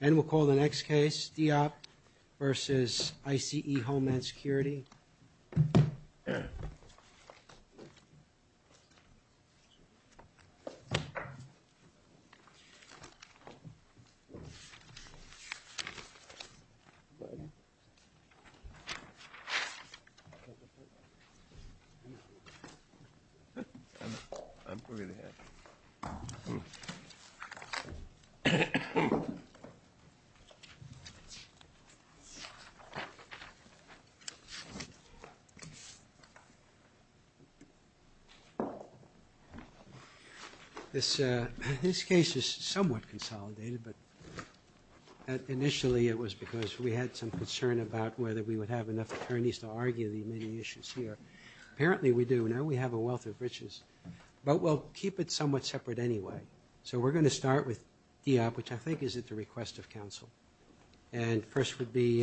And we'll call the next case, DEOP versus ICE Homeland Security. This case is somewhat consolidated, but initially it was because we had some concern about whether we would have enough attorneys to argue the many issues here. Apparently we do. Now we have a wealth of britches, but we'll keep it somewhat separate anyway. So we're going to start with DEOP, which I think is at the request of counsel. And first would be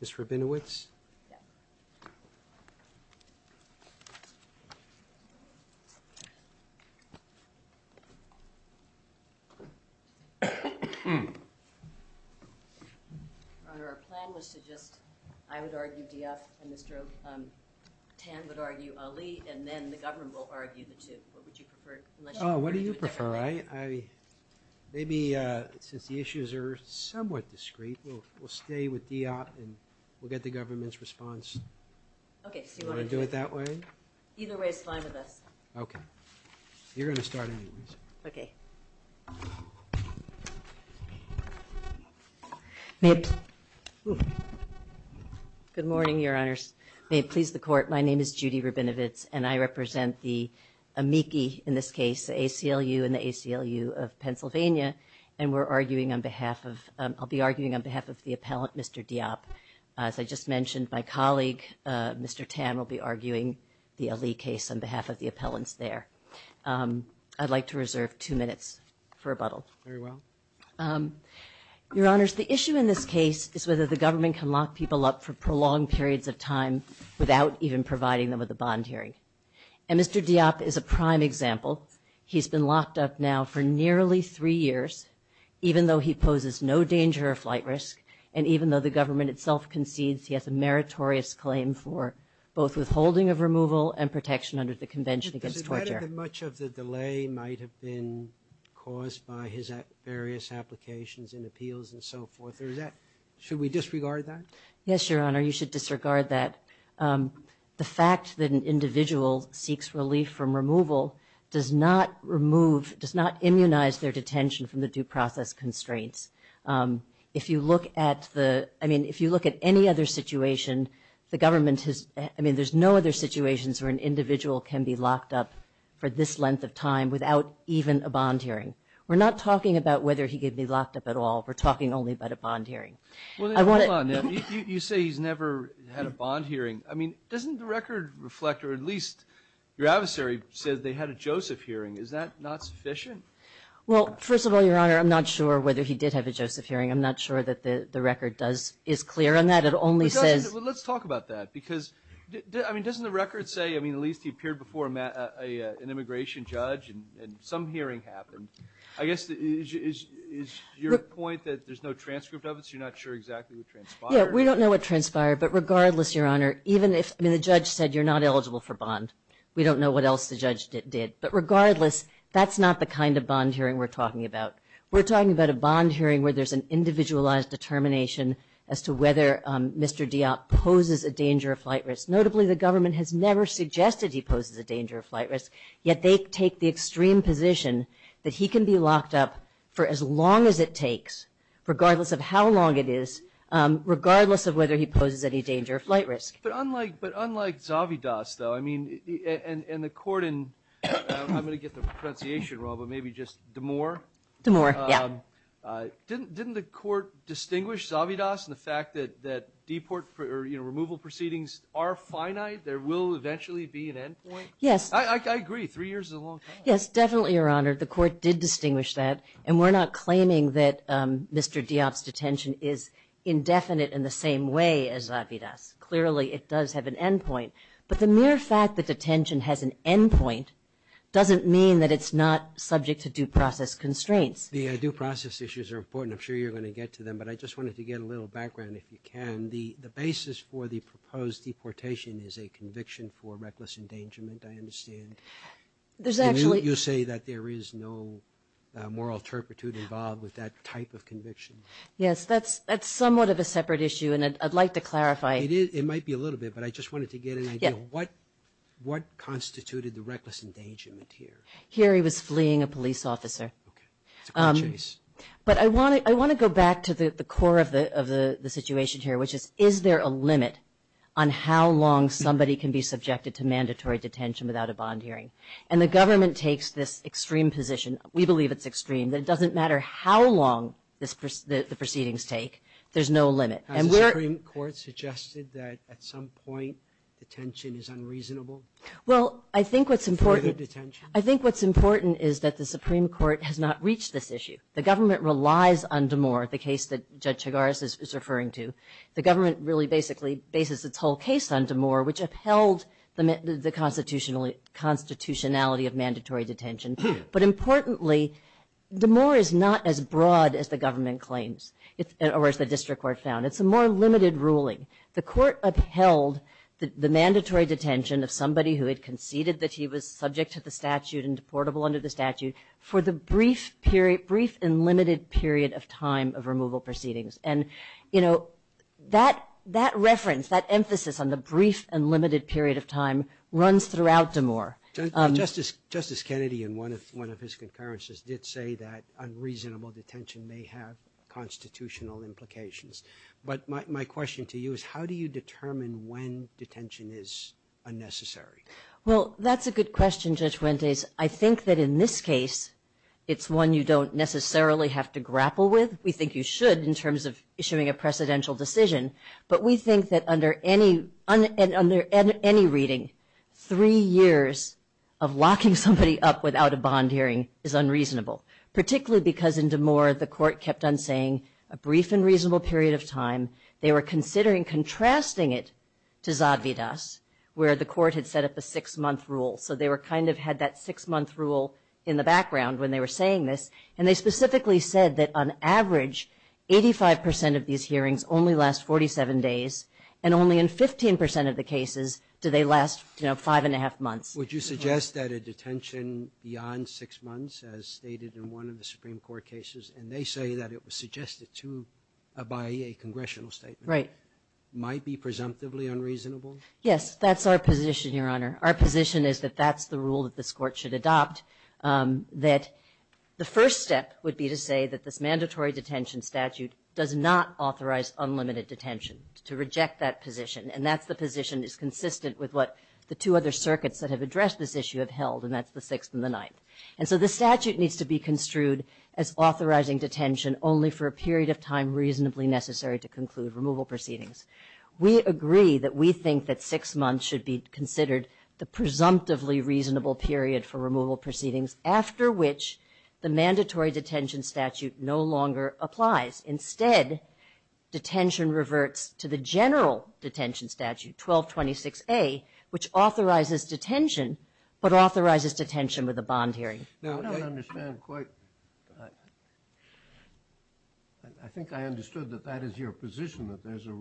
Ms. Rabinowitz. Our plan was to just, I would argue DEOP, and Mr. Pan would argue Ali, and then the government will argue the two. What would you prefer? Oh, what do you prefer? All right. Maybe since the issues are somewhat discreet, we'll stay with DEOP and we'll get the government's response. Okay. Do you want to do it that way? Either way is fine with us. Okay. You're going to start anyways. Okay. Good morning, your honors. May it please the court, my name is Judy Rabinowitz, and I represent the amici in this case, the ACLU of Pennsylvania, and we're arguing on behalf of, I'll be arguing on behalf of the appellant, Mr. DEOP. As I just mentioned, my colleague, Mr. Tan, will be arguing the Ali case on behalf of the appellants there. I'd like to reserve two minutes for rebuttals. Very well. Your honors, the issue in this case is whether the government can lock people up for prolonged periods of time without even providing them with a bond hearing. And Mr. DEOP is a prime example. He's been locked up now for nearly three years, even though he poses no danger of flight risk, and even though the government itself concedes he has a meritorious claim for both withholding of removal and protection under the Convention against Torture. Does it matter that much of the delay might have been caused by his various applications and appeals and so forth, or is that, should we disregard that? Yes, your honor, you should disregard that. The fact that an individual seeks relief from removal does not remove, does not immunize their detention from the due process constraints. If you look at the, I mean, if you look at any other situation, the government has, I mean, there's no other situations where an individual can be locked up for this length of time without even a bond hearing. We're not talking about whether he could be locked up at all. We're talking only about a bond hearing. Well, hold on, you say he's never had a bond hearing. I mean, doesn't the record reflect, or at least your adversary says they had a Joseph hearing. Is that not sufficient? Well, first of all, your honor, I'm not sure whether he did have a Joseph hearing. I'm not sure that the record does, is clear on that. It only says... Let's talk about that, because, I mean, doesn't the record say, I mean, at least he appeared before an immigration judge, and some hearing happened. I guess, is your point that there's no transcript of it, so you're not sure exactly what transpired? Yeah, we don't know what transpired, but regardless, your honor, even if, I mean, the judge said you're not eligible for bond, we don't know what else the judge did. But regardless, that's not the kind of bond hearing we're talking about. We're talking about a bond hearing where there's an individualized determination as to whether Mr. Diop poses a danger of flight risk. Notably, the government has never suggested he poses a danger of flight risk, yet they take the extreme position that he can be locked up for as long as it takes, regardless of how long it is, regardless of whether he poses any danger of flight risk. But unlike Zavidas, though, I mean, and the court in... I'm going to get the pronunciation wrong, but maybe just DeMoore. DeMoore, yeah. Didn't the court distinguish Zavidas and the fact that deport or removal proceedings are finite, there will eventually be an end point? Yes. I agree. Three years is a long time. Yes, definitely, your honor. The court did distinguish that. And we're not claiming that Mr. Diop's detention is indefinite in the same way as Zavidas. Clearly, it does have an end point. But the mere fact that the detention has an end point doesn't mean that it's not subject to due process constraints. The due process issues are important. I'm sure you're going to get to them, but I just wanted to get a little background if you can. The basis for the proposed deportation is a conviction for reckless endangerment, I understand. There's actually... And you say that there is no moral turpitude involved with that type of conviction. Yes, that's somewhat of a separate issue, and I'd like to clarify. It might be a little bit, but I just wanted to get an idea of what constituted the reckless endangerment here. Here, he was fleeing a police officer. Okay. But I want to go back to the core of the situation here, which is, is there a limit on how long somebody can be subjected to mandatory detention without a bond hearing? And the government takes this extreme position. We believe it's extreme. It doesn't matter how long the proceedings take. There's no limit. And we're... Has the Supreme Court suggested that at some point, detention is unreasonable? Well, I think what's important... I think what's important is that the Supreme Court has not reached this issue. The government relies on Damore, the case that Judge Chigaris is referring to. The government really basically bases its whole case on Damore, which uphelds the constitutionality of mandatory detention. But importantly, Damore is not as broad as the government claims, or as the district court found. It's a more limited ruling. The court upheld the mandatory detention of somebody who had conceded that he was subject to the statute and deportable under the statute for the brief and limited period of time of removal proceedings. And that reference, that emphasis on the brief and limited period of time, runs throughout Damore. Justice Kennedy, in one of his conferences, did say that unreasonable detention may have constitutional implications. But my question to you is, how do you determine when detention is unnecessary? Well, that's a good question, Judge Fuentes. I think that in this case, it's one you don't necessarily have to grapple with. We think you should, in terms of issuing a precedential decision. But we think that under any reading, three years of locking somebody up without a bond hearing is unreasonable. Particularly because in Damore, the court kept on saying, a brief and reasonable period of time, they were considering contrasting it to Zadvydas, where the court had set up a six-month rule. So they kind of had that six-month rule in the background when they were saying this. And they specifically said that on average, 85% of these hearings only last 47 days. And only in 15% of the cases do they last five and a half months. Would you suggest that a detention beyond six months, as stated in one of the Supreme by a congressional statement, might be presumptively unreasonable? Yes, that's our position, Your Honor. Our position is that that's the rule that this court should adopt. That the first step would be to say that this mandatory detention statute does not authorize unlimited detention, to reject that position. And that's the position that's consistent with what the two other circuits that have addressed this issue have held, and that's the Sixth and the Ninth. And so the statute needs to be construed as authorizing detention only for a period of time reasonably necessary to conclude removal proceedings. We agree that we think that six months should be considered the presumptively reasonable period for removal proceedings, after which the mandatory detention statute no longer applies. Instead, detention reverts to the general detention statute, 1226A, which authorizes detention, but authorizes detention with a bond hearing. Now, I don't understand quite, I think I understood that that is your position, that there's a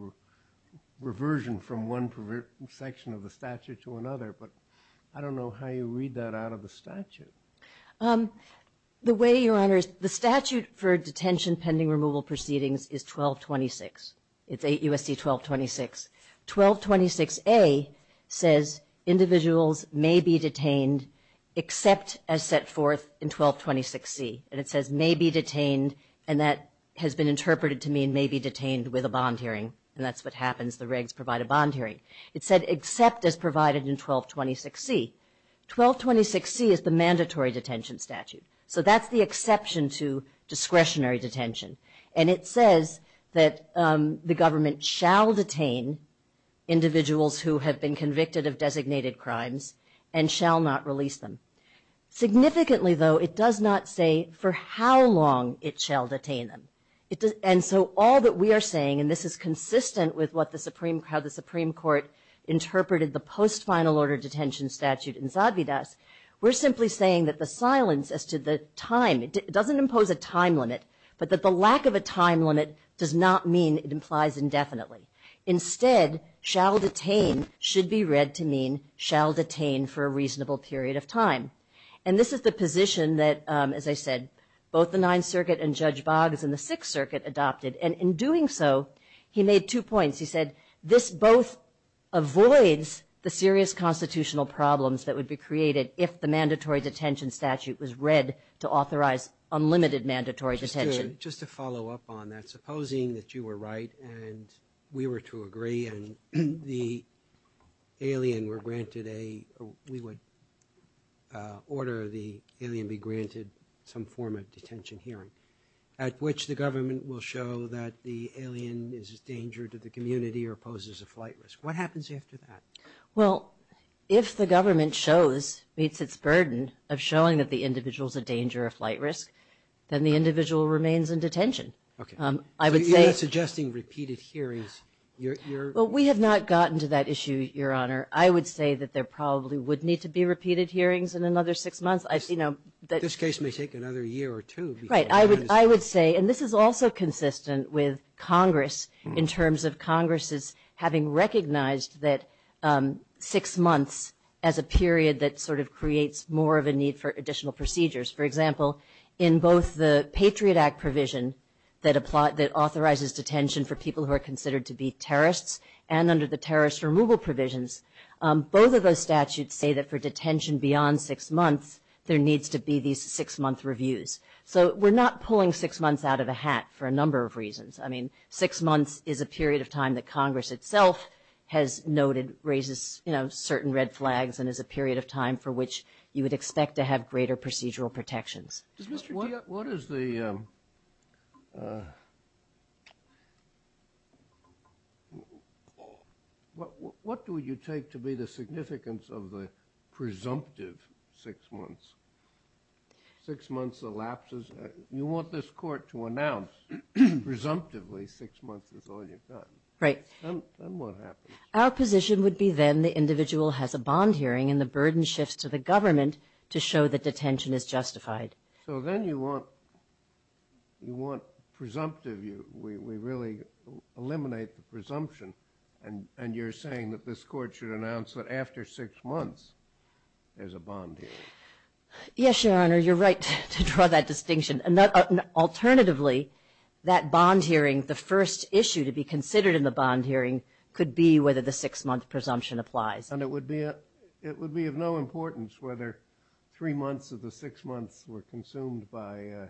reversion from one section of the statute to another, but I don't know how you read that out of the statute. The way, Your Honor, the statute for detention pending removal proceedings is 1226. It's 8 U.S.C. 1226. 1226A says individuals may be detained except as set forth in 1226C, and it says may be detained, and that has been interpreted to mean may be detained with a bond hearing, and that's what happens, the regs provide a bond hearing. It said except as provided in 1226C. 1226C is the mandatory detention statute, so that's the exception to discretionary detention. And it says that the government shall detain individuals who have been convicted of designated crimes and shall not release them. Significantly, though, it does not say for how long it shall detain them. And so all that we are saying, and this is consistent with how the Supreme Court interpreted the post-final order detention statute in Zadvydas, we're simply saying that the silence as to the time, it doesn't impose a time limit, but that the lack of a time limit does not mean it implies indefinitely. Instead, shall detain should be read to mean shall detain for a reasonable period of time. And this is the position that, as I said, both the Ninth Circuit and Judge Boggs in the Sixth Circuit adopted, and in doing so, he made two points. He said this both avoids the serious constitutional problems that would be created if the statute was read to authorize unlimited mandatory detention. Just to follow up on that, supposing that you were right and we were to agree and the alien were granted a, we would order the alien be granted some form of detention here, at which the government will show that the alien is a danger to the community or poses a flight risk. What happens after that? Well, if the government shows, meets its burden of showing that the individual's a danger or a flight risk, then the individual remains in detention. Okay. I would say... You're not suggesting repeated hearings. You're... Well, we have not gotten to that issue, Your Honor. I would say that there probably would need to be repeated hearings in another six months. I've seen them... This case may take another year or two. Right. I would say, and this is also consistent with Congress in terms of Congresses having recognized that six months as a period that sort of creates more of a need for additional procedures. For example, in both the Patriot Act provision that authorizes detention for people who are considered to be terrorists and under the terrorist removal provisions, both of those statutes say that for detention beyond six months, there needs to be these six-month reviews. So we're not pulling six months out of a hat for a number of reasons. I mean, six months is a period of time that Congress itself has noted raises certain red flags and is a period of time for which you would expect to have greater procedural protections. What is the... What do you take to be the significance of the presumptive six months? Six months elapses... You want this court to announce presumptively six months is all you've got. Right. Then what happens? Our position would be then the individual has a bond hearing and the burden shifts to the government to show that detention is justified. So then you want presumptive... We really eliminate the presumption and you're saying that this court should announce that after six months there's a bond hearing. Yes, Your Honor, you're right to draw that distinction. Alternatively, that bond hearing, the first issue to be considered in the bond hearing could be whether the six-month presumption applies. And it would be of no importance whether three months of the six months were consumed by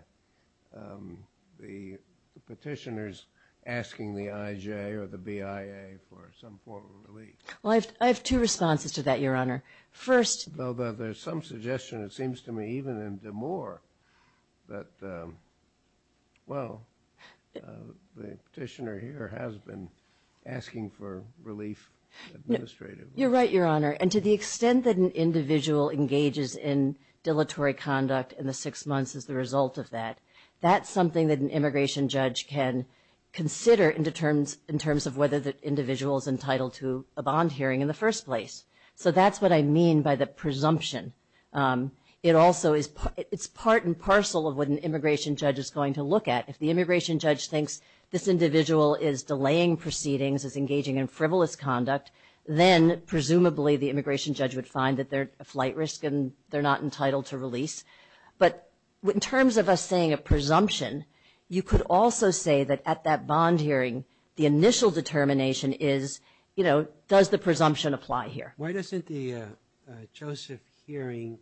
the petitioners asking the IJ or the BIA for some form of relief. Well, I have two responses to that, Your Honor. First... Well, there's some suggestion, it seems to me, even in DeMoore that, well, the petitioner here has been asking for relief administratively. You're right, Your Honor. And to the extent that an individual engages in dilatory conduct in the six months as the result of that, that's something that an immigration judge can consider in terms of whether the individual is entitled to a bond hearing in the first place. So that's what I mean by the presumption. It also is part and parcel of what an immigration judge is going to look at. If the immigration judge thinks this individual is delaying proceedings, is engaging in frivolous conduct, then presumably the immigration judge would find that they're a flight risk and they're not entitled to release. But in terms of us saying a presumption, you could also say that at that bond hearing, the initial determination is, you know, does the presumption apply here? Why doesn't the JOSEPH hearing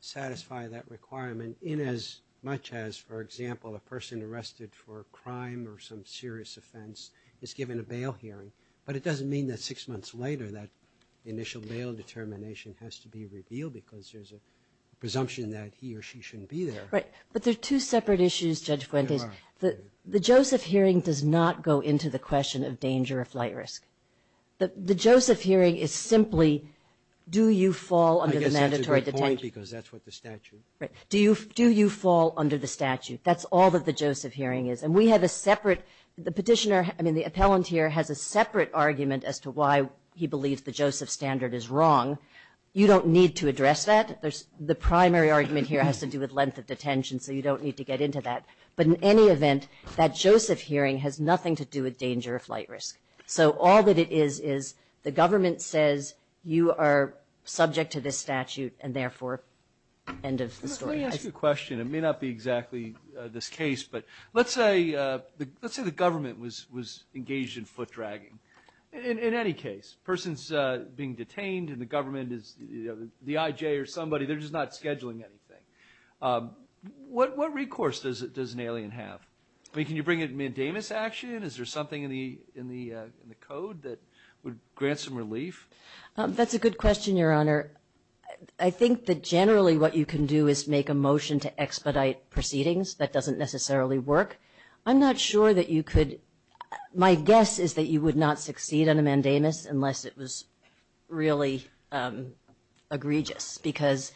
satisfy that requirement in as much as, for example, a person arrested for a crime or some serious offense is given a bail hearing? But it doesn't mean that six months later that initial bail determination has to be revealed because there's a presumption that he or she shouldn't be there. Right. But there's two separate issues, Judge Gwendolyn. There are. The JOSEPH hearing does not go into the question of danger or flight risk. The JOSEPH hearing is simply, do you fall under the mandatory detention? I guess this is important because that's what the statute. Right. Do you fall under the statute? That's all that the JOSEPH hearing is. And we have a separate, the petitioner, I mean, the appellant here has a separate argument as to why he believes the JOSEPH standard is wrong. You don't need to address that. The primary argument here has to do with length of detention, so you don't need to get into that. But in any event, that JOSEPH hearing has nothing to do with danger or flight risk. So all that it is, is the government says you are subject to this statute and therefore end of story. Let me ask you a question. It may not be exactly this case, but let's say the government was engaged in foot dragging. In any case, a person's being detained and the government is, the IJ or somebody, they're just not scheduling anything. What recourse does an alien have? I mean, can you bring in a Davis action? Is there something in the code that would grant some relief? That's a good question, Your Honor. I think that generally what you can do is make a motion to expedite proceedings. That doesn't necessarily work. I'm not sure that you could. My guess is that you would not succeed on a mandamus unless it was really egregious because...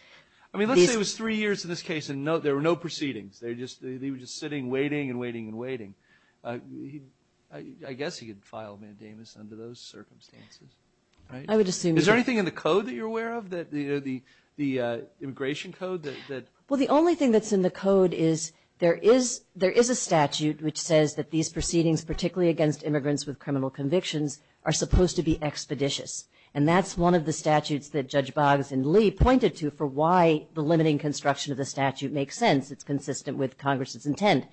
I mean, let's say it was three years in this case and there were no proceedings. They were just sitting, waiting and waiting and waiting. I guess he'd file a mandamus under those circumstances. I would assume... Is there anything in the code that you're aware of, the immigration code? Well, the only thing that's in the code is there is a statute which says that these proceedings, particularly against immigrants with criminal convictions, are supposed to be expeditious. And that's one of the statutes that Judge Boggs and Lee pointed to for why the limiting construction of the statute makes sense. It's consistent with Congress's intent.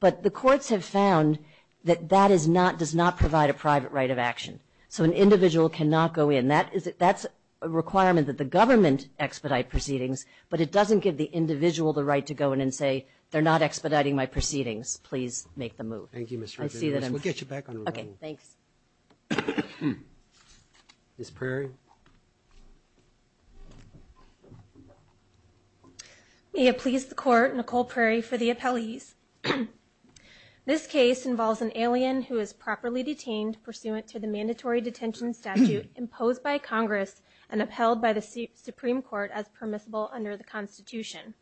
But the courts have found that that does not provide a private right of action. So an individual cannot go in. That's a requirement that the government expedite proceedings. But it doesn't give the individual the right to go in and say, they're not expediting my proceedings. Please make the move. Thank you, Ms. Richardson. We'll get you back on the phone. Okay, thanks. Ms. Prairie? May it please the Court, Nicole Prairie for the appellees. This case involves an alien who is properly detained pursuant to the mandatory detention statute imposed by Congress and upheld by the Supreme Court as permissible under the Constitution.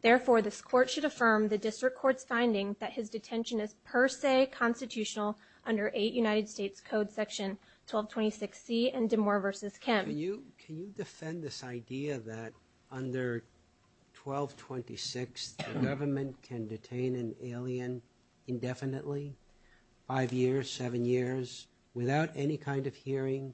Therefore, this Court should affirm the district court's findings that his detention is per se constitutional under 8 United States Code Section 1226C and DeMoor v. Kim. Can you defend this idea that under 1226, the government can detain an alien? Indefinitely? Five years? Seven years? Without any kind of hearing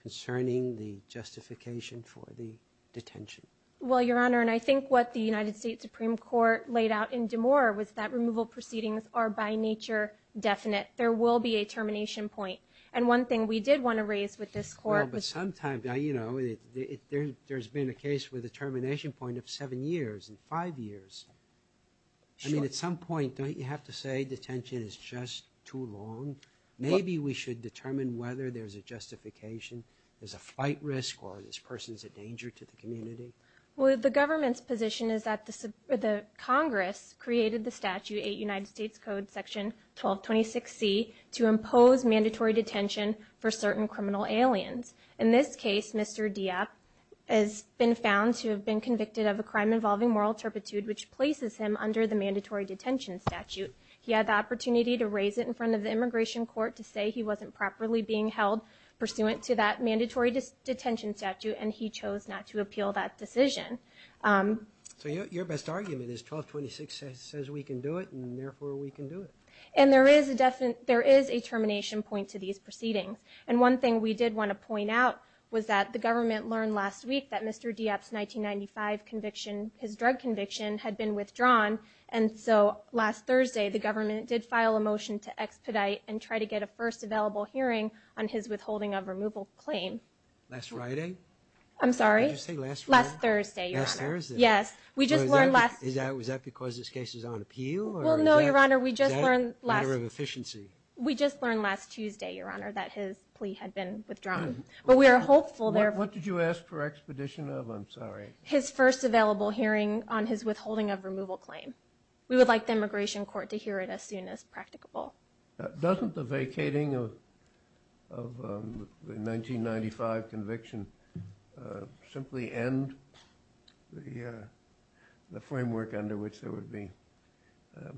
concerning the justification for the detention? Well, Your Honor, and I think what the United States Supreme Court laid out in DeMoor was that removal proceedings are by nature definite. There will be a termination point. And one thing we did want to raise with this Court was... Well, but sometimes, you know, there's been a case with a termination point of seven years and five years. I mean, at some point, don't you have to say detention is just too long? Maybe we should determine whether there's a justification, there's a fight risk, or this person's a danger to the community? Well, the government's position is that Congress created the statute, 8 United States Code Section 1226C, to impose mandatory detention for certain criminal aliens. In this case, Mr. Dieppe has been found to have been convicted of a crime involving moral intrepidude, which places him under the mandatory detention statute. He had the opportunity to raise it in front of the Immigration Court to say he wasn't properly being held pursuant to that mandatory detention statute, and he chose not to appeal that decision. So your best argument is 1226 says we can do it, and therefore we can do it? And there is a termination point to these proceedings. And one thing we did want to point out was that the government learned last week that his plea for expedition had been withdrawn, and so last Thursday, the government did file a motion to expedite and try to get a first available hearing on his withholding of removal claim. Last Friday? I'm sorry? Last Thursday. Last Thursday? Was that because this case is on appeal? Well, no, Your Honor, we just learned last Tuesday, Your Honor, that his plea had been withdrawn. What did you ask for expedition of? I'm sorry. His first available hearing on his withholding of removal claim. We would like the Immigration Court to hear it as soon as practicable. Doesn't the vacating of the 1995 conviction simply end the framework under which there would be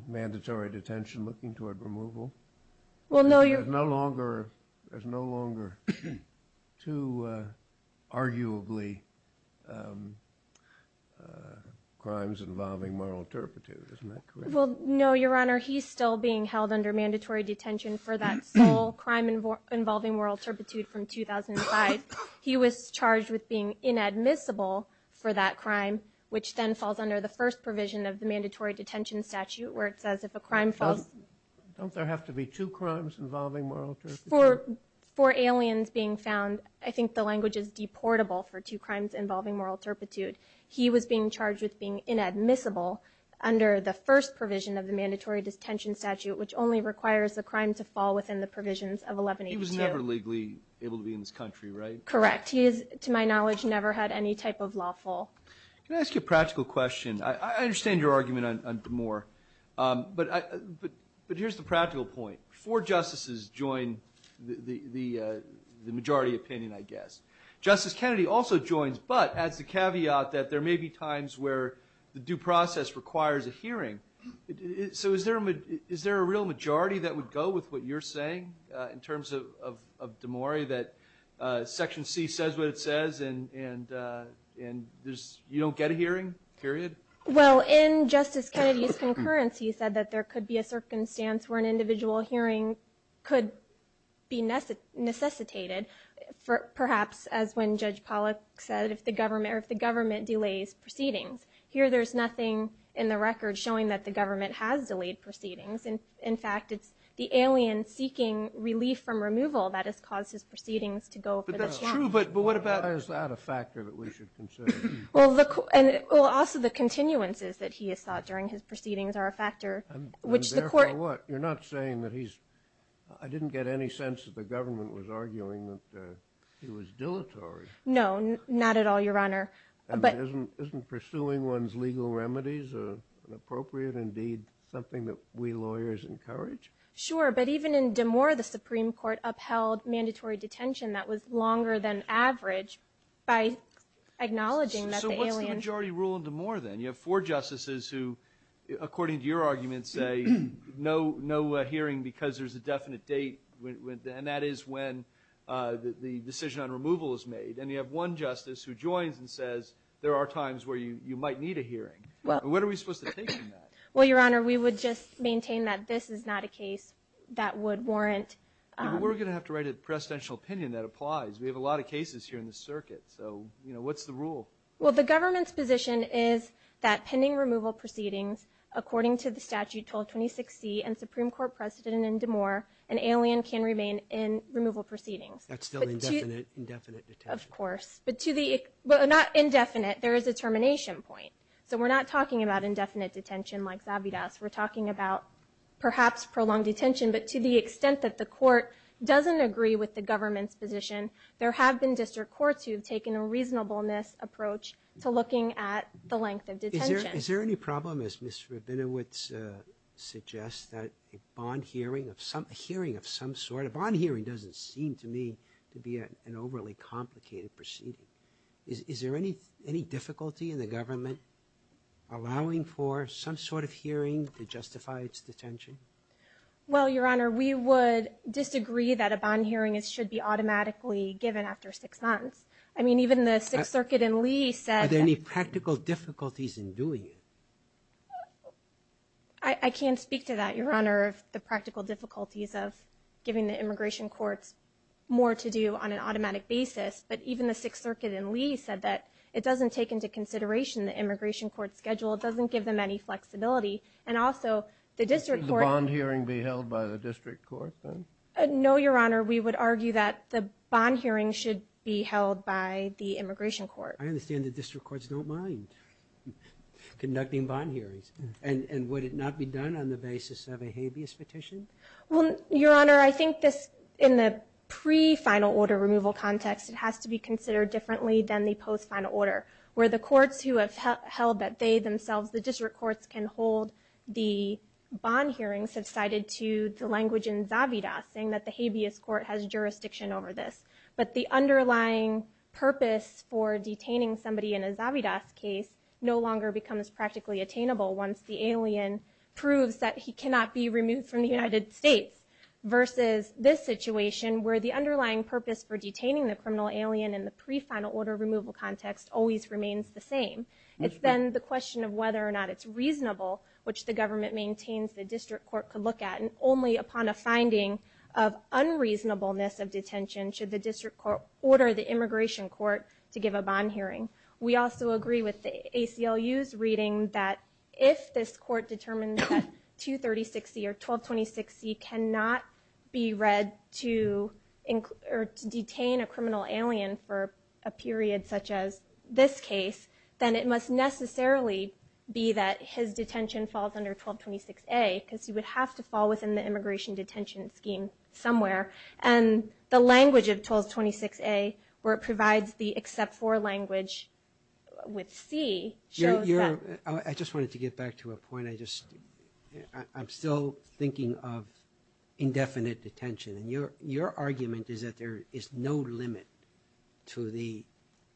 mandatory detention looking toward removal? Well, no, Your Honor. He's still being held under mandatory detention for that small crime involving moral turpitude from 2005. He was charged with being inadmissible for that crime, which then falls under the first provision of the mandatory detention statute where it says if a crime falls... Don't there have to be two crimes involving moral turpitude? For aliens being found, I think the language is deportable for two crimes involving moral I don't know if that's the case. He was being charged with being inadmissible under the first provision of the mandatory detention statute, which only requires the crime to fall within the provisions of 11H2. He was never legally able to be in this country, right? Correct. He is, to my knowledge, never had any type of lawful... Can I ask you a practical question? I understand your argument on DeMoore, but here's the practical point. Four justices join the majority opinion, I guess. I thought that there may be times where the due process requires a hearing. Is there a real majority that would go with what you're saying in terms of DeMoore, that Section C says what it says and you don't get a hearing, period? In Justice Kennedy's concurrence, he said that there could be a circumstance where an individual hearing could be necessitated, perhaps as when Judge Pollack said, if the government delays proceedings. Here, there's nothing in the record showing that the government has delayed proceedings. In fact, it's the alien seeking relief from removal that has caused his proceedings to go for the count. But that's true, but what about... Is that a factor that we should consider? Also, the continuances that he has sought during his proceedings are a factor, which the court... Therefore what? You're not saying that he's... I didn't get any sense that the government was arguing that he was dilatory. No, not at all, Your Honor. Isn't pursuing one's legal remedies an appropriate, indeed, something that we lawyers encourage? Sure, but even in DeMoore, the Supreme Court upheld mandatory detention that was longer than average by acknowledging that the alien... So what's the majority rule in DeMoore, then? You have four justices who, according to your argument, say no hearing because there's a definite date. And that is when the decision on removal is made. There are times where you might need a hearing. And what are we supposed to think in that? Well, Your Honor, we would just maintain that this is not a case that would warrant... But we're going to have to write a presidential opinion that applies. We have a lot of cases here in the circuit. So what's the rule? Well, the government's position is that pending removal proceedings, according to the statute 1226C and Supreme Court precedent in DeMoore, an alien can remain in removal proceedings. That's still an indefinite detention. Of course. But to the... Well, not indefinite. There is a termination point. So we're not talking about indefinite detention like Zabidas. We're talking about perhaps prolonged detention. But to the extent that the court doesn't agree with the government's position, there have been district courts who have taken a reasonableness approach to looking at the length of detention. Is there any problem, as Mr. Rabinowitz suggests, that a bond hearing of some sort... A bond hearing doesn't seem to me to be an overly complicated procedure. I mean, is there any difficulty in the government allowing for some sort of hearing to justify its detention? Well, Your Honor, we would disagree that a bond hearing should be automatically given after six months. I mean, even the Sixth Circuit in Lee said... Are there any practical difficulties in doing it? I can't speak to that, Your Honor, the practical difficulties of giving the immigration courts more to do on an automatic basis. But even the Sixth Circuit in Lee said that it doesn't take into consideration the immigration court schedule. It doesn't give them any flexibility. And also, the district court... Should the bond hearing be held by the district court? No, Your Honor. We would argue that the bond hearing should be held by the immigration court. I understand the district courts don't mind conducting bond hearings. And would it not be done on the basis of a habeas petition? Well, Your Honor, I think in the pre-final order removal context, it has to be done on the basis of a habeas petition. It has to be considered differently than the post-final order, where the courts who have held that they themselves, the district courts, can hold the bond hearings subsided to the language in Zavidas, saying that the habeas court has jurisdiction over this. But the underlying purpose for detaining somebody in a Zavidas case no longer becomes practically attainable once the alien proves that he cannot be removed from the United States versus this situation, where the underlying purpose for detaining the criminal alien is the pre-final order removal context always remains the same. It's then the question of whether or not it's reasonable, which the government maintains the district court could look at. And only upon a finding of unreasonableness of detention should the district court order the immigration court to give a bond hearing. We also agree with the ACLU's reading that if this court determines that 23060 or 122060 has been detained for a period such as this case, then it must necessarily be that his detention falls under 1226A, because he would have to fall within the immigration detention scheme somewhere. And the language of 1226A, where it provides the except for language with C, shows that... I just wanted to get back to a point. I'm still thinking of indefinite detention. I'm thinking of indefinite detention to the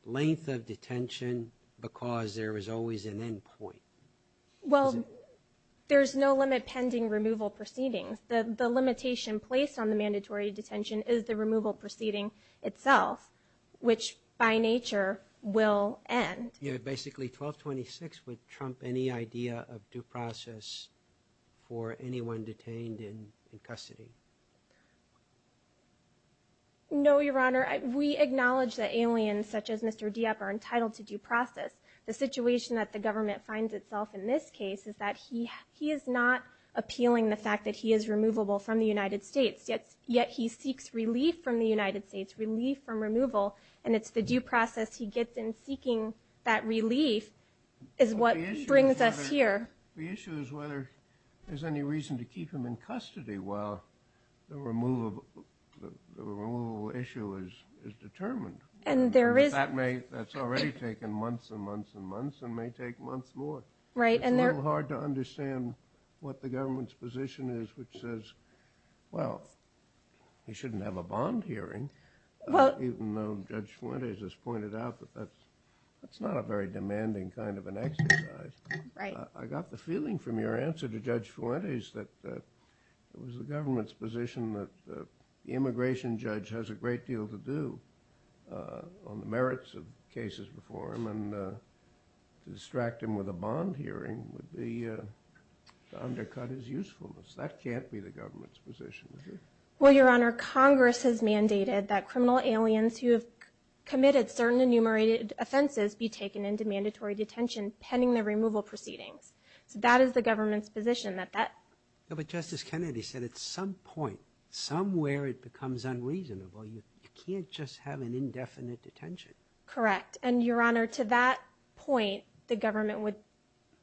length of detention, because there is always an end point. Well, there's no limit pending removal proceedings. The limitation placed on the mandatory detention is the removal proceeding itself, which by nature will end. Yeah, basically 1226 would trump any idea of due process for anyone detained in custody. No, Your Honor. We acknowledge that aliens such as Mr. Diep are entitled to due process. The situation that the government finds itself in this case is that he is not appealing the fact that he is removable from the United States, yet he seeks relief from the United States, relief from removal. And it's the due process he gets in seeking that relief is what brings us here. The issue is whether there's any reason to keep him in custody while the removal issue is determined. That's already taken months and months and months, and may take months more. It's a little hard to understand what the government's position is, which says, well, he shouldn't have a bond hearing, even though Judge Fuentes has pointed out that that's not a very demanding kind of an exercise. I got the feeling from your answer to Judge Fuentes that it was the government's position that what they would do on the merits of cases before him and distract him with a bond hearing would be to undercut his usefulness. That can't be the government's position, is it? Well, Your Honor, Congress has mandated that criminal aliens who have committed certain enumerated offenses be taken into mandatory detention pending the removal proceedings. That is the government's position. But Justice Kennedy said at some point, somewhere it becomes unreasonable. You can't just have an indefinite detention. Correct. And, Your Honor, to that point, the government would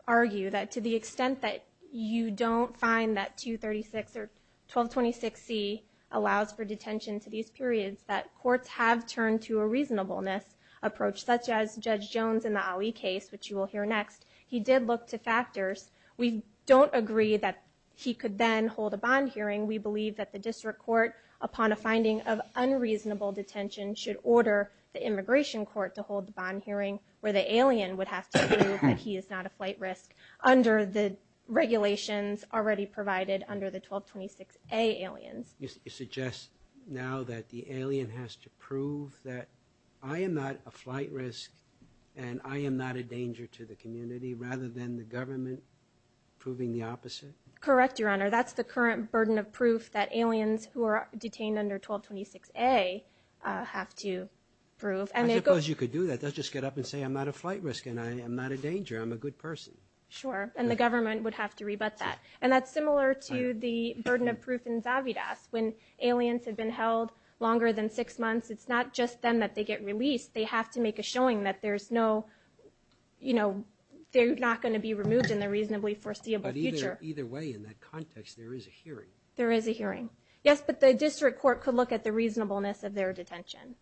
argue that to the extent that you don't find that 236 or 1226C allows for detention to these periods, that courts have turned to a reasonableness approach, such as Judge Jones in the Ali case, which you will hear next. He did look to factors. We don't agree that he could then hold a bond hearing. We think that an unreasonable detention should order the immigration court to hold a bond hearing where the alien would have to prove that he is not a flight risk under the regulations already provided under the 1226A alien. You suggest now that the alien has to prove that I am not a flight risk and I am not a danger to the community rather than the government proving the opposite? Correct, Your Honor. That's the current burden of proof that aliens who are detained under 1226A are not a flight risk under the 1226A have to prove. I suppose you could do that. They would just get up and say, I am not a flight risk and I am not a danger. I am a good person. Sure. And the government would have to rebut that. And that's similar to the burden of proof in Zavidak. When aliens have been held longer than six months, it's not just them that they get released. They have to make a showing that they are not going to be removed in the reasonably foreseeable future. Either way, in that context, there is a hearing. There is a hearing. Yes, but the district court could look at the reasonableness of their detention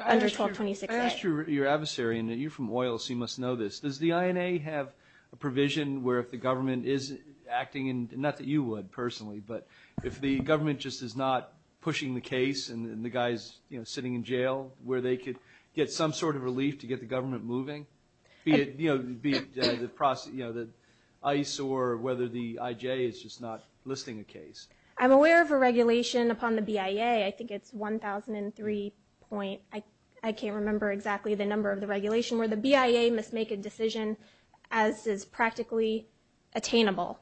under 1226A. I asked your adversary, and you are from OILS, so you must know this. Does the INA have a provision where if the government is acting, and not that you would personally, but if the government just is not pushing the case and the guy is sitting in jail, where they could get some sort of relief to get the government moving, be it ICE or whether the IJ is just not listing a case? I'm aware of a regulation upon the BIA. I think it's 1003. I can't remember exactly the number of the regulation where the BIA must make a decision as is practically attainable.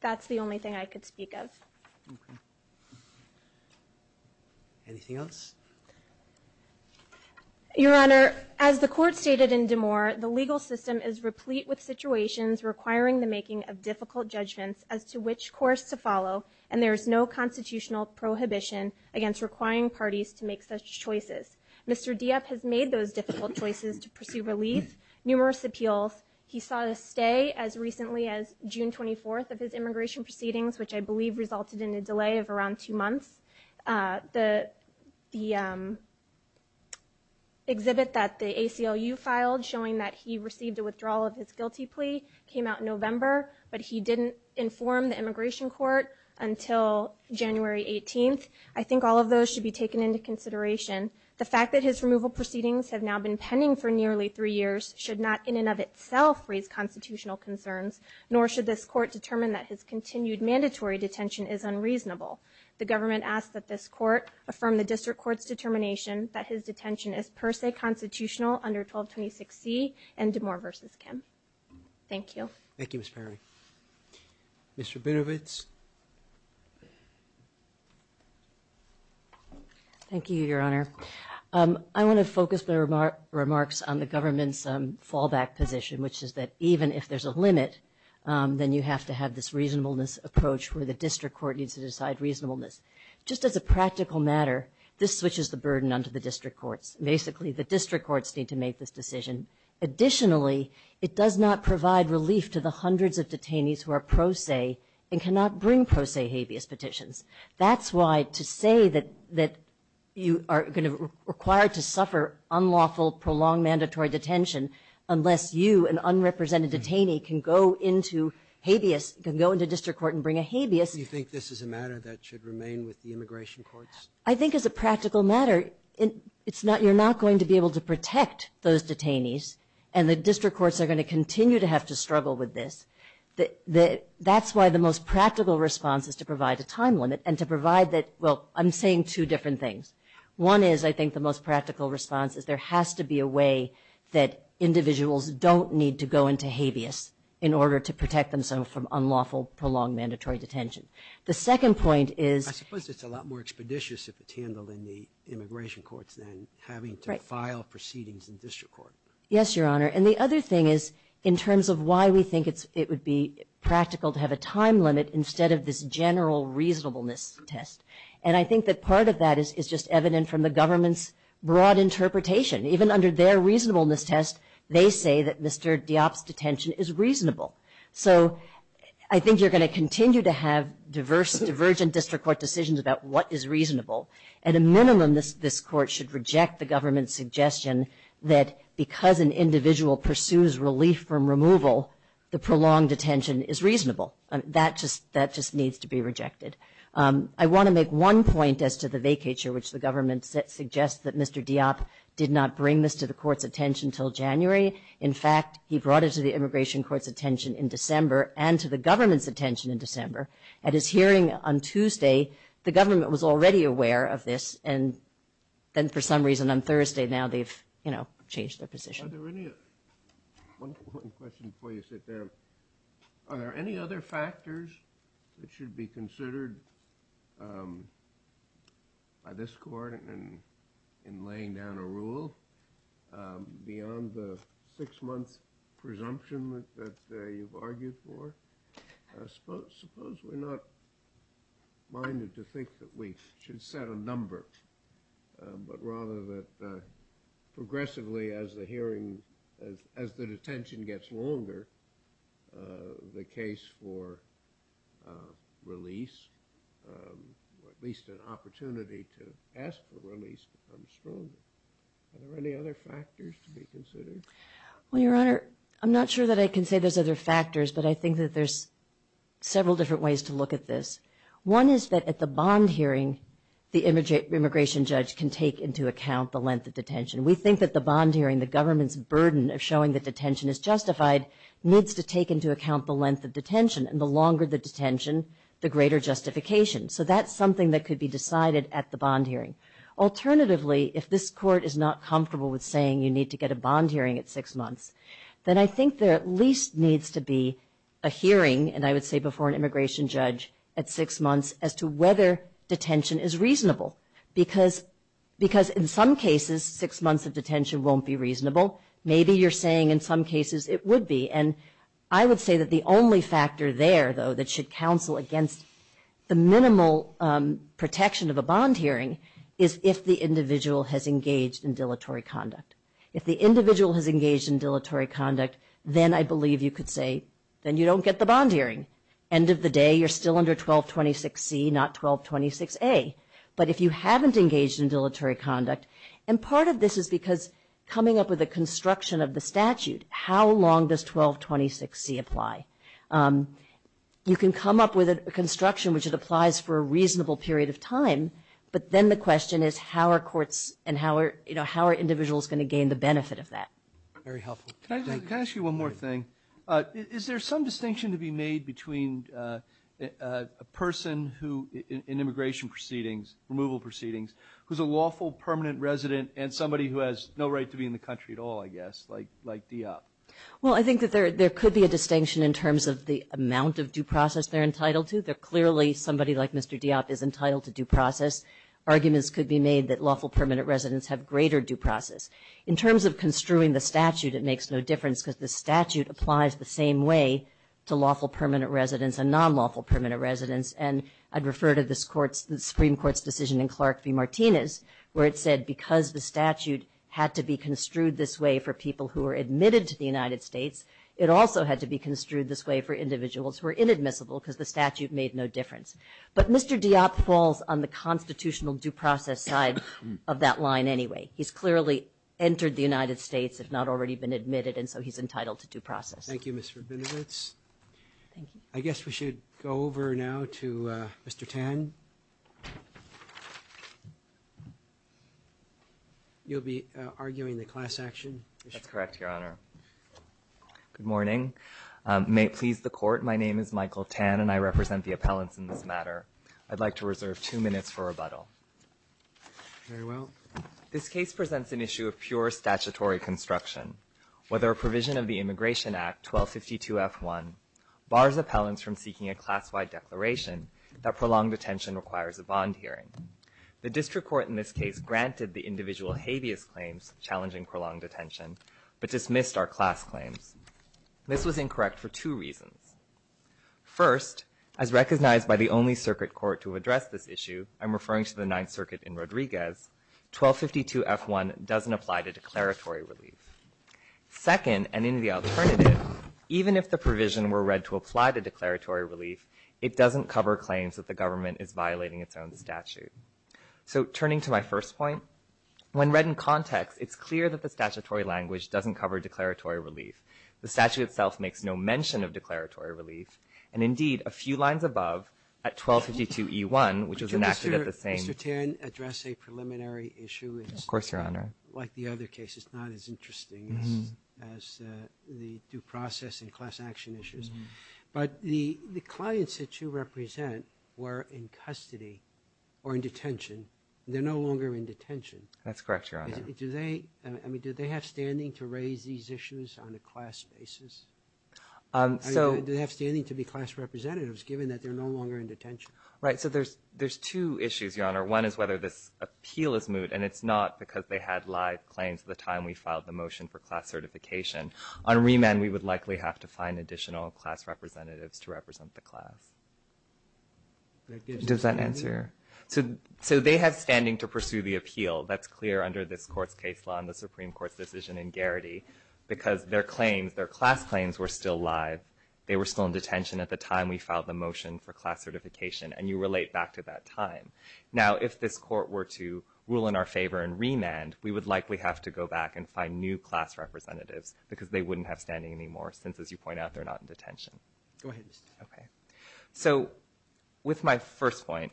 That's the only thing I could speak of. Okay. Anything else? Your Honor, as the court stated in DeMoore, the legal system is replete with situations requiring the making of difficult judgments as to which claims are to be made. There is no course to follow, and there is no constitutional prohibition against requiring parties to make such choices. Mr. Dieff has made those difficult choices to pursue relief. Numerous appeals. He saw a stay as recently as June 24th of his immigration proceedings, which I believe resulted in a delay of around two months. The exhibit that the ACLU filed showing that he received a withdrawal of his guilty plea came out in November, but he didn't inform the immigration court. Until January 18th, I think all of those should be taken into consideration. The fact that his removal proceedings have now been pending for nearly three years should not in and of itself raise constitutional concerns, nor should this court determine that his continued mandatory detention is unreasonable. The government asks that this court affirm the district court's determination that his detention is per se constitutional under 1226E and DeMoore v. Kim. Thank you. Thank you, Ms. Ferry. Mr. Birovitz. Thank you, Your Honor. I want to focus the remarks on the government's fallback position, which is that even if there's a limit, then you have to have this reasonableness approach where the district court needs to decide reasonableness. Just as a practical matter, this switches the burden onto the district courts. Basically, the district courts need to make this decision. The district courts are not going to be able to protect the detainees who are pro se and cannot bring pro se habeas petitions. That's why to say that you are going to be required to suffer unlawful, prolonged mandatory detention unless you, an unrepresented detainee, can go into habeas, can go into district court and bring a habeas. Do you think this is a matter that should remain with the immigration courts? I think as a practical matter, you're not going to be able to protect those detainees and the district courts are going to continue to have to struggle with this. That's why the most practical response is to provide a time limit and to provide that, well, I'm saying two different things. One is, I think the most practical response is there has to be a way that individuals don't need to go into habeas in order to protect themselves from unlawful, prolonged mandatory detention. The second point is... I suppose it's a lot more expeditious if it's handled in the immigration courts than having to file proceedings in district court. Yes, Your Honor. I think it's practical to have a time limit instead of this general reasonableness test. And I think that part of that is just evident from the government's broad interpretation. Even under their reasonableness test, they say that disturbed deops detention is reasonable. So I think you're going to continue to have divergent district court decisions about what is reasonable. At a minimum, this court should reject the government's suggestion that because an individual pursues relief from removal, the prolonged detention should not be considered unreasonable. That just needs to be rejected. I want to make one point as to the vacay chair, which the government suggests that Mr. Deop did not bring this to the court's attention until January. In fact, he brought it to the immigration court's attention in December and to the government's attention in December. At his hearing on Tuesday, the government was already aware of this. And then for some reason on Thursday, now they've changed their position. Are there any... One quick question, please. Are there any other factors that should be considered by this court in laying down a rule beyond the six-month presumption that you've argued for? Suppose we're not minded to think that we should set a number, but rather that progressively as the hearing... The case for release, at least an opportunity to ask for release, becomes stronger. Are there any other factors to be considered? Well, Your Honor, I'm not sure that I can say there's other factors, but I think that there's several different ways to look at this. One is that at the bond hearing, the immigration judge can take into account the length of detention. We think that the bond hearing, the government's burden of showing that detention is justified, needs to be considered. And the longer the detention, the greater justification. So that's something that could be decided at the bond hearing. Alternatively, if this court is not comfortable with saying you need to get a bond hearing at six months, then I think there at least needs to be a hearing, and I would say before an immigration judge, at six months as to whether detention is reasonable. Because in some cases, six months of detention won't be reasonable. Maybe you're saying in some cases it would be. And I would say that the only factor there, though, that should counsel against the minimal protection of a bond hearing is if the individual has engaged in dilatory conduct. If the individual has engaged in dilatory conduct, then I believe you could say, then you don't get the bond hearing. End of the day, you're still under 1226C, not 1226A. But if you haven't engaged in dilatory conduct, and part of this is because you haven't engaged in dilatory conduct, then you're under 1226C apply. You can come up with a construction which applies for a reasonable period of time, but then the question is how are courts and how are individuals going to gain the benefit of that? Very helpful. Can I ask you one more thing? Is there some distinction to be made between a person in immigration proceedings, removal proceedings, who's a lawful permanent resident and somebody who has no right to be in the country at all, I guess, like DEOP? Well, I think that there could be a distinction in terms of the amount of due process they're entitled to. They're clearly, somebody like Mr. DEOP is entitled to due process. Arguments could be made that lawful permanent residents have greater due process. In terms of construing the statute, it makes no difference because the statute applies the same way to lawful permanent residents and non-lawful permanent residents. And I'd refer to this Supreme Court's decision in Clark v. Martinez where it said because the statute had to be construed this way for people who are admitted to the immigration proceedings, the statute had to be construed this way for the United States. It also had to be construed this way for individuals who are inadmissible because the statute made no difference. But Mr. DEOP falls on the constitutional due process side of that line anyway. He's clearly entered the United States, has not already been admitted, and so he's entitled to due process. Thank you, Ms. Rabinowitz. Thank you. I guess we should go over now to Mr. Tan. You'll be arguing the class action? That's correct, Your Honor. Good morning. May it please the Court, my name is Michael Tan and I represent the appellants in this matter. I'd like to reserve two minutes for rebuttal. Very well. This case presents an issue of pure statutory construction. Whether a provision of the Immigration Act 1252F1 bars appellants from seeking a class-wide declaration that prolonged detention requires a bond hearing. The district court in this case granted the individual habeas claims challenging prolonged detention, but dismissed our class law. This was incorrect for two reasons. First, as recognized by the only circuit court to address this issue, I'm referring to the Ninth Circuit in Rodriguez, 1252F1 doesn't apply to declaratory relief. Second, and in the alternative, even if the provision were read to apply to declaratory relief, it doesn't cover claims that the government is violating its own statute. So turning to my first point, when read in context, it's clear that the statutory language doesn't cover declaratory relief. The statute itself makes no mention of declaratory relief. And indeed, a few lines above, at 1252E1, which is enacted at the same... Mr. Tan, address a preliminary issue. Of course, Your Honor. Like the other cases, not as interesting as the due process and class action issues. But the clients that you represent were in custody or in detention. They're no longer in detention. That's correct, Your Honor. Do they have standing to raise these issues on a class basis? Do they have standing to be class representatives given that they're no longer in detention? Right. So there's two issues, Your Honor. One is whether this appeal is moot, and it's not because they had live claims the time we filed the motion for class certification. On remand, we would likely have to find additional class representatives to represent the class. Does that answer? So they have standing to pursue the appeal. Supreme Court's decision in Garrity, because their claims are no longer valid. Their claims, their class claims were still live. They were still in detention at the time we filed the motion for class certification. And you relate back to that time. Now, if this court were to rule in our favor in remand, we would likely have to go back and find new class representatives because they wouldn't have standing anymore since, as you point out, they're not in detention. Go ahead. Okay. So with my first point,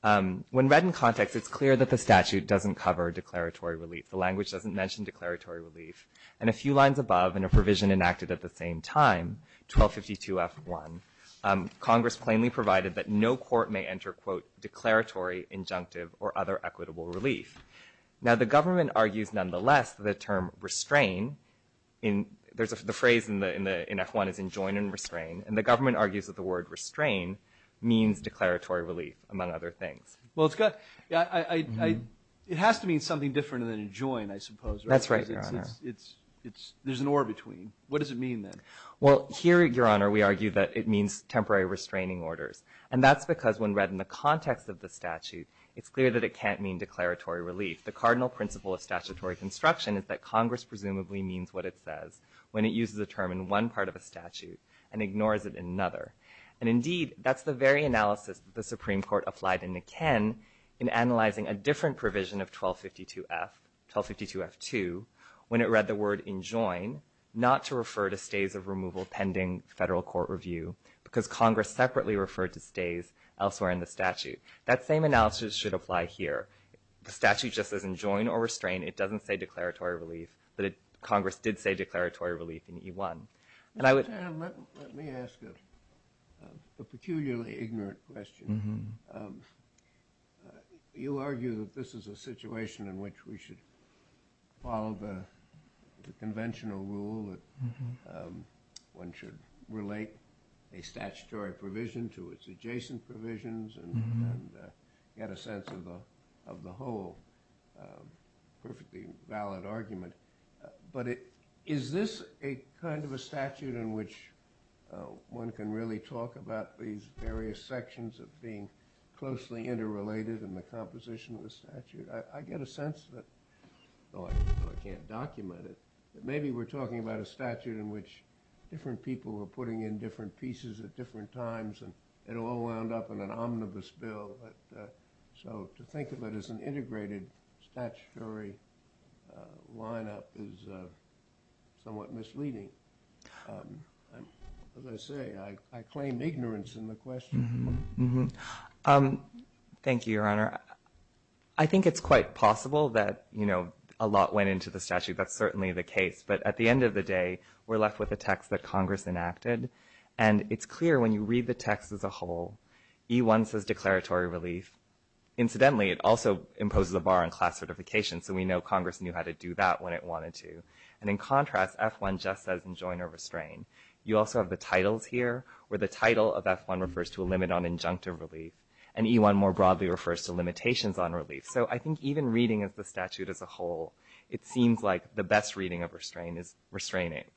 when read in context, it's clear that the statute doesn't cover declaratory relief. The language doesn't mention declaratory relief. But when the motion enacted at the same time, 1252F1, Congress plainly provided that no court may enter, quote, declaratory, injunctive, or other equitable relief. Now, the government argues, nonetheless, the term restrain, the phrase in F1 is enjoin and restrain. And the government argues that the word restrain means declaratory relief, among other things. Well, it has to mean something different than enjoin, I suppose. That's right, Your Honor. There's an or between. What does it mean then? Well, here, Your Honor, we argue that it means temporary restraining orders. And that's because when read in the context of the statute, it's clear that it can't mean declaratory relief. The cardinal principle of statutory construction is that Congress presumably means what it says when it uses the term in one part of a statute and ignores it in another. And indeed, that's the very analysis the Supreme Court applied in the Ken in analyzing a different provision of 1252F2 when it read the word enjoin, it had to refer to stays of removal pending federal court review because Congress separately referred to stays elsewhere in the statute. That same analysis should apply here. The statute just doesn't enjoin or restrain, it doesn't say declaratory relief, but Congress did say declaratory relief in E1. Let me ask a peculiarly ignorant question. You argue that this is a situation in which we should follow the conventional rule that one should relate a statutory provision to its adjacent provisions and get a sense of the whole perfectly valid argument. But is this a kind of a statute in which one can really talk about these various sections of being closely interrelated in the composition of the statute? I get a sense that, though I can't document it, that maybe we're talking about a statute in which there is a statute in which different people are putting in different pieces at different times and it all wound up in an omnibus bill. So to think of it as an integrated statutory lineup is somewhat misleading. As I say, I claim ignorance in the question. Thank you, Your Honor. I think it's quite possible that a lot went into the statute. That's certainly the case. But at the end of the day, we're left with a text that Congress enacted and it's clear when you read the text as a whole, E1 says declaratory relief. Incidentally, it also imposes a bar on class certification, so we know Congress knew how to do that when it wanted to. And in contrast, F1 just says enjoin or restrain. You also have the titles here where the title of F1 refers to a limit on injunctive relief and E1 more broadly refers to limitations on relief. So I think even reading as the statute as a whole, it seems like the best reading of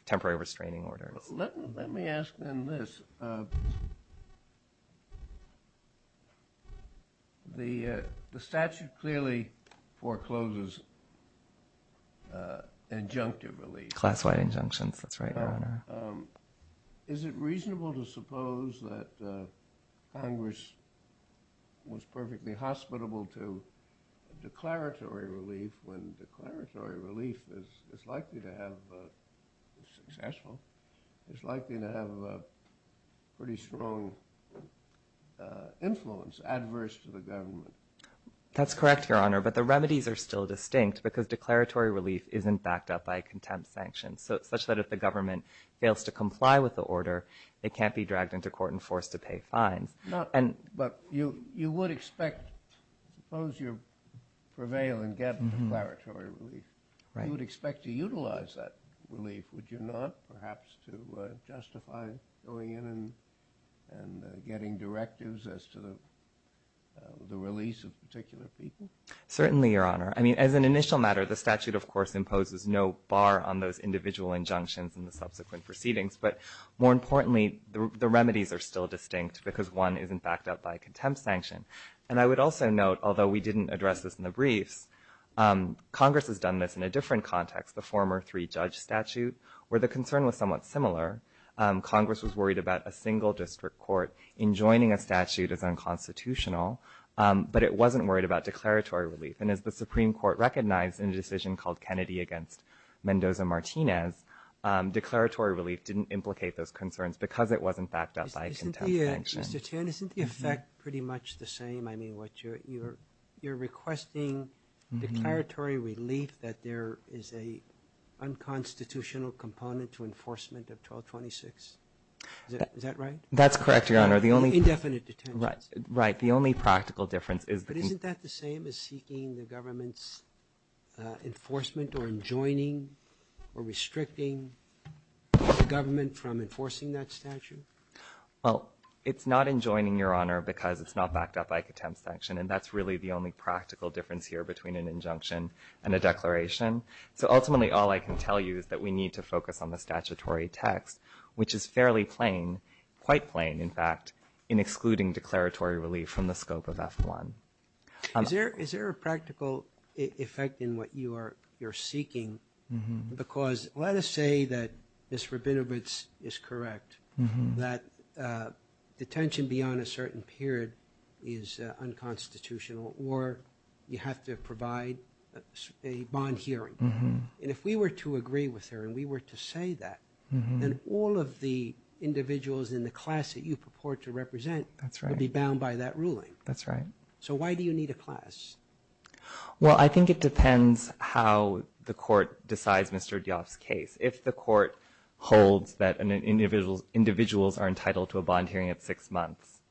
temporary restraining order. Let me ask then this. The statute clearly forecloses injunctive relief. Classified injunction, Is it reasonable to suppose that Congress was perfectly hostile to the statute? Or was it hospitable to declaratory relief when declaratory relief is likely to have a successful, is likely to have a pretty strong influence adverse to the government? That's correct, Your Honor, but the remedies are still distinct because declaratory relief isn't backed up by a contempt sanction such that if the government fails to comply with the order, it can't be dragged into court and forced to pay fines. But you would expect, suppose you prevail and get declaratory relief, you would expect to utilize that relief, would you not? Perhaps to justify going in and getting directives as to the release of particular people? Certainly, Your Honor. I mean, as an initial matter, the statute, of course, imposes no bar on those but importantly, the remedies are still distinct because one isn't backed up by a contempt sanction. And I would also note, although we didn't address this in the brief, Congress has done this in a different context, the former three-judge statute where the concern was somewhat similar. Congress was worried about a single district court enjoining a statute that's unconstitutional but it wasn't worried about declaratory relief. And as the Supreme Court recognized in a decision called Kennedy against Mendoza-Martinez, declaratory relief didn't implicate those concerns because it wasn't backed up by a contempt sanction. Mr. Tan, isn't the effect pretty much the same? I mean, you're requesting declaratory relief but you're saying that there is an unconstitutional component to enforcement of 1226. Is that right? That's correct, Your Honor. Indefinite detention. Right. The only practical difference But isn't that the same as seeking the government's enforcement or enjoining or restricting the government from enforcing that statute? Well, it's not enjoining, it's a declaration. So ultimately, all I can tell you is that we need to focus on the statutory text which is fairly plain, quite plain, in fact, in excluding declaratory relief from the scope of F1. Is there a practical effect in what you're seeking because let us say that this forbidden is correct, that detention beyond a certain period is unconstitutional or you have to provide a bond hearing. And if we were to agree with her and we were to say that then all of the individuals in the class that you purport to represent would be bound by that ruling. That's right. So why do you need a class? Well, I think it depends how the court decides Mr. Dias' case. If the court holds that individuals are entitled to a bond hearing at six months,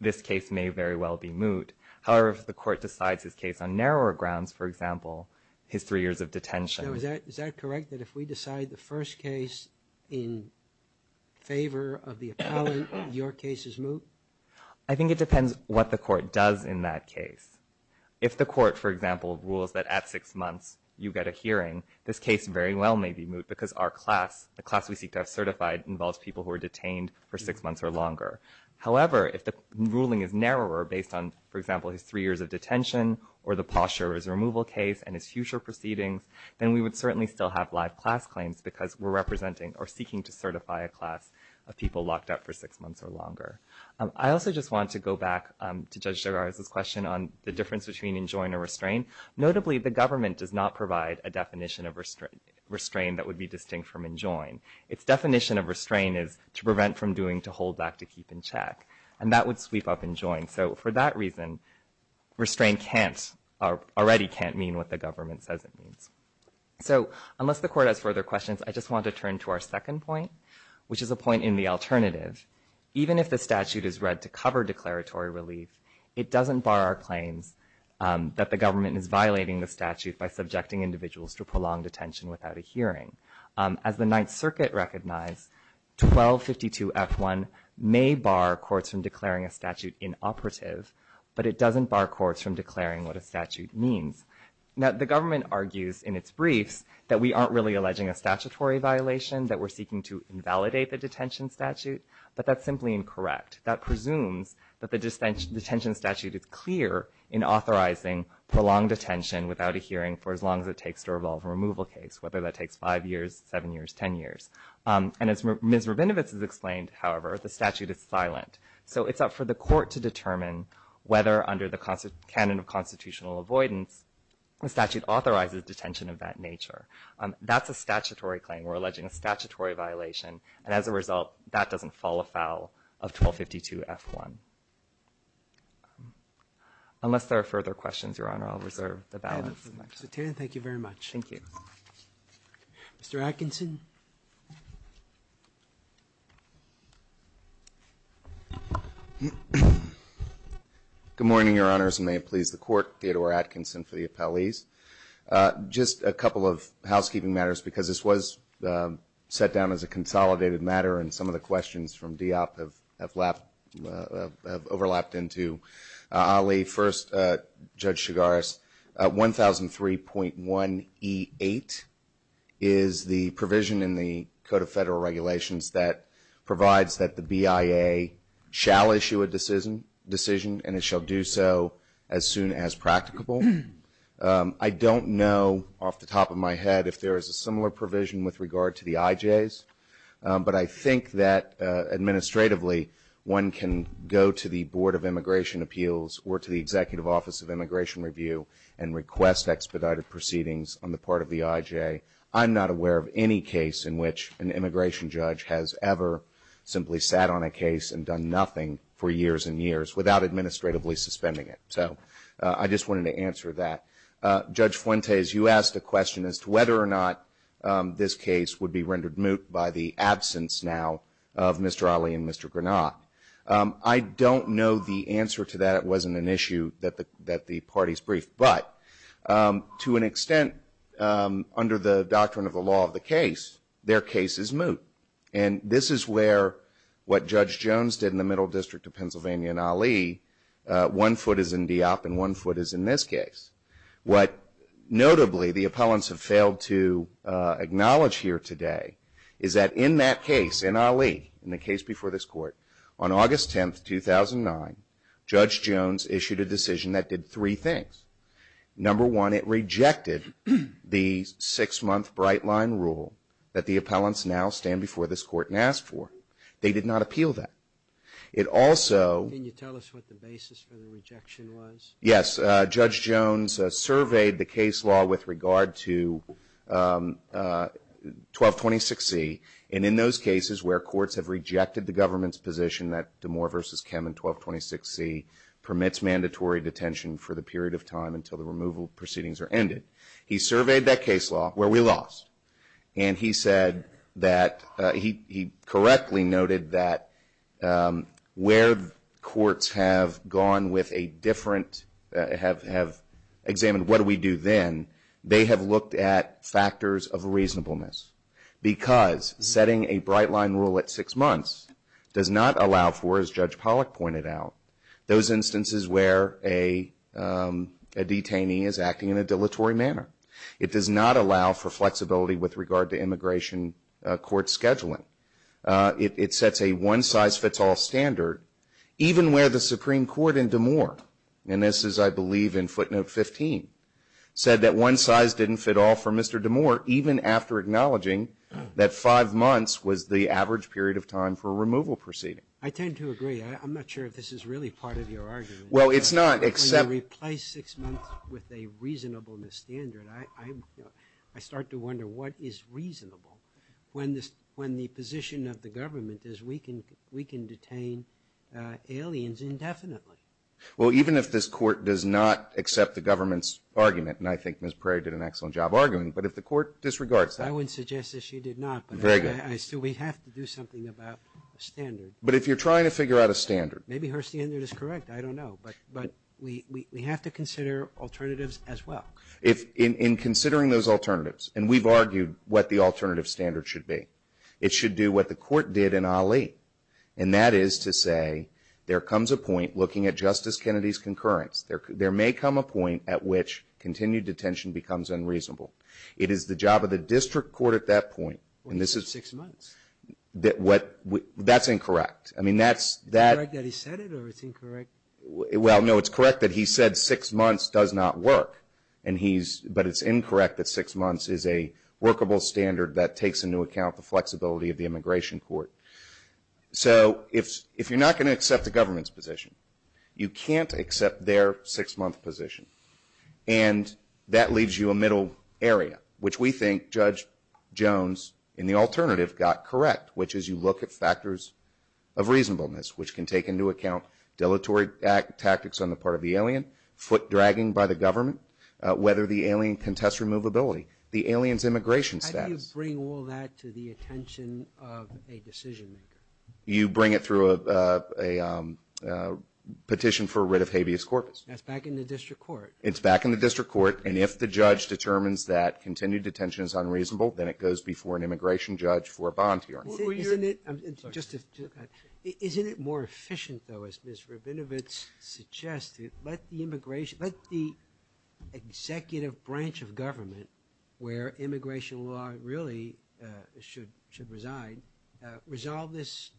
this case may very well be moot. However, if the court decides this case on narrower grounds, for example, his three years of detention. So is that correct that if we decide the first case in favor of the appellant, your case is moot? I think it depends what the court does in that case. If the court, for example, rules that at six months you get a hearing, this case very well may be moot because our class, the class we seek to have certified involves people who are detained for six months or longer. However, if the ruling is narrower based on, for example, his three years of detention or the posture of his removal case and his future proceedings, then we would certainly still have live class claims because we're representing or seeking to certify a class of people locked up for six months or longer. I also just want to go back to Judge Gerard's question on the difference between enjoin or restrain. Notably, the government does not provide a definition of restrain that would be distinct from enjoin. Its definition of restrain is to prevent from doing, to hold back, to keep in check. And that would sweep up enjoin. So for that reason, restrain already can't mean even if the statute is read to cover declaratory relief, it doesn't bar our claims that the government is violating the statute by subjecting individuals to prolonged detention without a hearing. As the Ninth Circuit recognized, 1252F1 may bar courts from declaring a statute inoperative, but it doesn't bar courts from declaring what a statute means. Now, the government argues in its brief that we aren't really alleging a statutory violation, that we're seeking to invalidate the detention statute, but that's simply incorrect. That presumes that the detention statute is clear in authorizing prolonged detention without a hearing for as long as it takes to revolve a removal case, whether that takes five years, seven years, ten years. And as Ms. Rabinovitz has explained, however, the statute is silent. So it's up for the court to determine whether under the canon of constitutional avoidance, there is a statutory violation. And as a result, that doesn't fall afoul of 1252F1. Unless there are further questions, Your Honor, I'll reserve the balance. Thank you very much. Thank you. Mr. Atkinson? Good morning, Your Honors, and may it please the Court, Theodore Atkinson for the appellees. Just a couple of housekeeping matters because this was set down as a consolidated matter and some of the questions from DOP have overlapped into. I'll leave first, Judge Chigaris. 1003.1E8 is the provision in the Code of Federal Regulations that provides that the BIA shall issue a decision and it shall do so as soon as practicable. I don't know, off the top of my head, if there is a similar provision with regard to the IJs, but I think that administratively one can go to the Board of Immigration Appeals or to the Executive Office of Immigration Review and request expedited proceedings on the part of the IJ. I'm not aware of any case in which an immigration judge has ever simply sat on a case and done nothing for years and years without administratively suspending it. So I just wanted to answer that. Judge Fuentes, you asked a question as to whether or not this case would be rendered moot by the absence now of Mr. Ali and Mr. Granat. I don't know the answer to that. It wasn't an issue that the parties briefed, but to an extent under the doctrine of the law of the case, their case is moot. And this is where what Judge Jones did in the Middle District of Pennsylvania and Ali, one foot is in DIOP and one foot is in this case. What notably the appellants have failed to acknowledge here today is that in that case, in Ali, in the case before this court, on August 10, 2009, Judge Jones issued a decision that did three things. Number one, it rejected the six-month bright-line rule that the appellants now stand before this court and ask for. They did not appeal that. It also... Can you tell us what the basis for the rejection was? Yes. Judge Jones surveyed the case law with regard to 1226C and in those cases where courts have rejected the government's position that D'Amour v. Kem and he said that he correctly noted that where courts have gone with a different... have examined what do we do then, they have looked at factors of reasonableness because setting a bright-line rule at six months does not allow for, as Judge Pollack pointed out, those instances where a detainee is acting without immigration court scheduling. It sets a one-size-fits-all standard even where the Supreme Court in D'Amour and this is, I believe, in footnote 15 said that one size didn't fit all for Mr. D'Amour even after acknowledging that five months was the average period of time for a removal proceeding. I tend to agree. I'm not sure if this is really part of your argument. Well, it's not, except... When you replace six months with a reasonableness standard I start to wonder what is reasonable when the position of the government is we can detain aliens indefinitely. Well, even if this court does not accept the government's argument and I think Ms. Prairie did an excellent job of arguing, but if the court disregards that... I would suggest that she did not. We have to do something about standards. But if you're trying to figure out a standard... Maybe her standard is correct. I don't know, but we have to consider alternatives as well. In considering those alternatives, and we've argued what the alternative standard should be, it should do what the court did in Ali, and that is to say there comes a point looking at Justice Kennedy's concurrence, there may come a point at which continued detention becomes unreasonable. It is the job of the district court at that point, and this is... Six months. That's incorrect. Is it correct that he said it or it's incorrect? Well, no, it's correct that he said six months does not work, but it's incorrect that six months is a workable standard that takes into account the flexibility of the immigration court. So if you're not going to accept the government's position, you can't accept their six-month position, and that leaves you a middle area, which we think Judge Jones in the alternative got correct, which is you look at factors of reasonableness which can take into account dilatory tactics on the part of the alien, foot dragging by the government, whether the alien can test removability, the alien's immigration status. How do you bring all that to the attention of a decision-maker? You bring it through a petition for rid of habeas corpus. That's back in the district court. It's back in the district court, and if the judge determines that continued detention is unreasonable, then it goes before an immigration judge for a bond fee argument. Isn't it more efficient though, as Ms. Rabinovitz suggested, let the executive branch of government, where immigration law really should reside, resolve this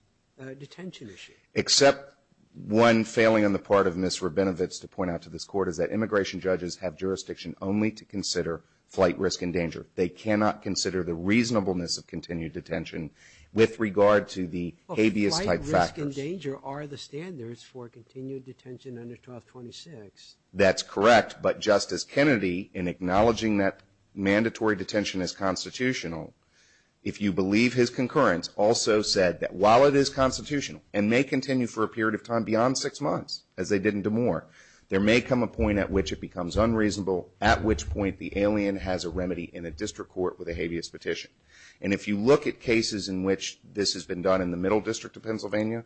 detention issue? Except one failing on the part of Ms. Rabinovitz to point out to this court is that immigration judges have jurisdiction only to consider flight risk and danger. They cannot consider the reasonableness of continued detention with regard to the habeas corpus. Flight risk and danger are the standards for continued detention under 1226. That's correct, but Justice Kennedy, in acknowledging that while it is constitutional and may continue for a period of time beyond six months, as they did in Des Moines, there may come a point at which it becomes unreasonable, at which point the alien has a remedy in a district court with a habeas petition. And if you look at cases in which this has been done in the middle district of Pennsylvania,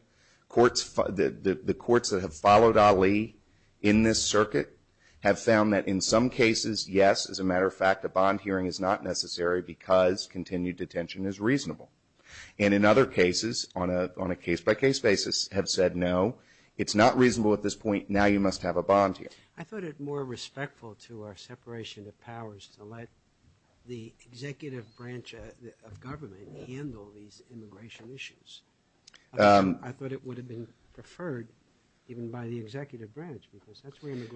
the courts that have followed Ali in this circuit have found that in some cases, yes, as a matter of fact, it is necessary because continued detention is reasonable. And in other cases, on a case-by-case basis, have said no, it's not reasonable at this point, now you must have a bond deal. I thought it more respectful to our separation of powers to let the executive branch of government handle these immigration issues. I thought it would have been preferred even by the executive branch because that's where What I'm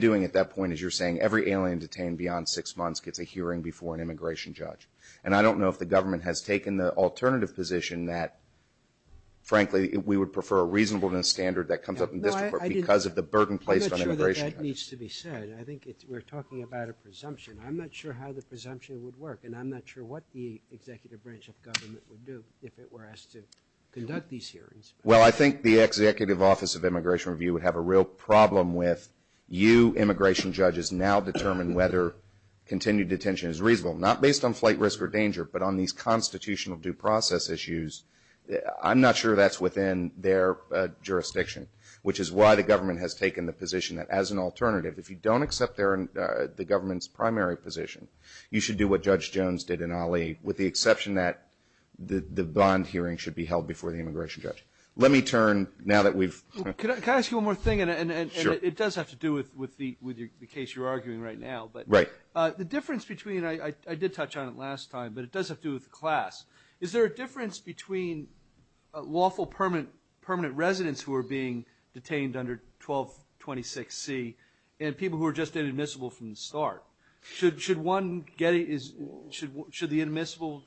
doing at that point is you're saying every alien detained beyond six months gets a hearing before an immigration judge. And I don't know if the government has taken the alternative position that frankly, we would prefer a reasonable standard that comes up in this court because of the burden placed on immigration judges. I think we're talking about a presumption. I'm not sure how the immigration judges now determine whether continued detention is reasonable, not based on flight risk or danger, but on these constitutional due process issues. I'm not sure that's within their jurisdiction, which is why the government has taken the position that as an alternative, if you don't accept the government's primary position, you should do what Judge Jones did in Ali, with the exception that the bond hearing should be with the case you're arguing right now. But right. The difference between I did touch on it last time, but it does have to do with class. Is there a difference between lawful permanent permanent residents who are being detained under 12 26 C and people who are just inadmissible from the start? Should should one get it? Is should should the admissible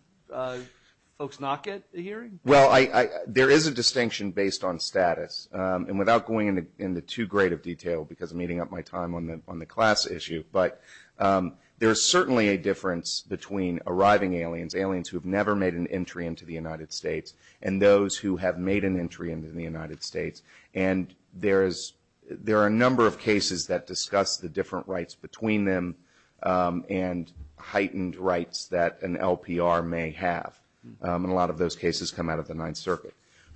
folks not get a hearing? Well, I there is a distinction based on status and without going into too great of detail because meeting up my time on the on the class issue. But there is certainly a difference between arriving aliens, aliens who have never made an entry into the United States and those who have made an entry into the United States. And there is there are a number of cases that discuss the different rights between them and heightened rights that an LPR may have. And a lot of those cases come out of the Ninth Circuit.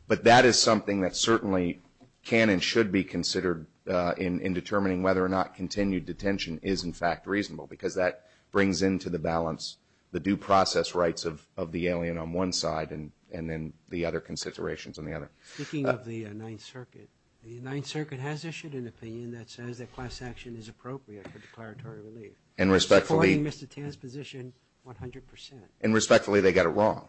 But that is something that certainly can and should be considered in determining whether or not continued detention is, in fact, reasonable because that brings into the balance the due process rights of the alien on one side and then the other considerations on the other. Speaking of the Ninth Circuit, the Ninth Circuit has issued an opinion that says that class action is appropriate for declaratory relief. And respectfully, Mr. Tan's position, 100 percent. And respectfully, they got it wrong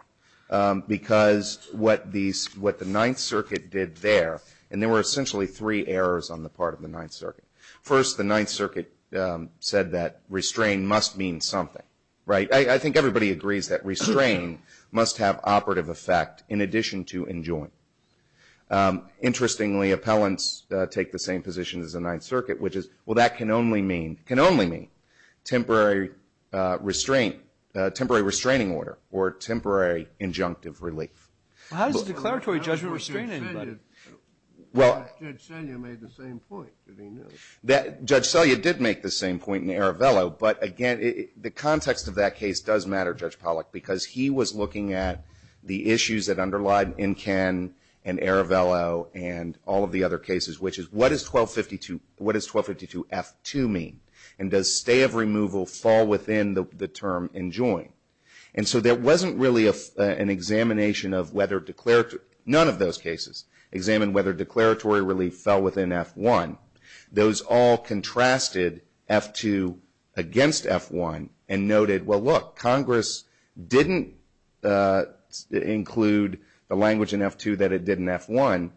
because what these what the Ninth Circuit did there and there were essentially three areas on the part of the Ninth Circuit. First, the Ninth Circuit said that restraint must mean something. Right. I think everybody agrees that restraining must have operative effect in addition to enjoyment. Interestingly, appellants take the same position as the Ninth Circuit, which is, well, that can only mean can only mean temporary restraint, temporary restraining order or temporary injunctive relief. How does declaratory judgment restrain anybody? Judge Selya made the same point. Judge Selya did make the same point in Aravello. But again, the context of that case does matter, Judge Pollack, because he was looking at the issues that underlie Incan and Aravello and all of the other cases, which is what is 1252? What is 1252 F2 mean? And does stay of removal fall within the term enjoy? And so there wasn't really an examination of whether declaratory, none of those cases. Examined whether declaratory relief fell within F1. Those all contrasted F2 against F1 and noted, well, look, Congress didn't include the language in F2 that it did in F1,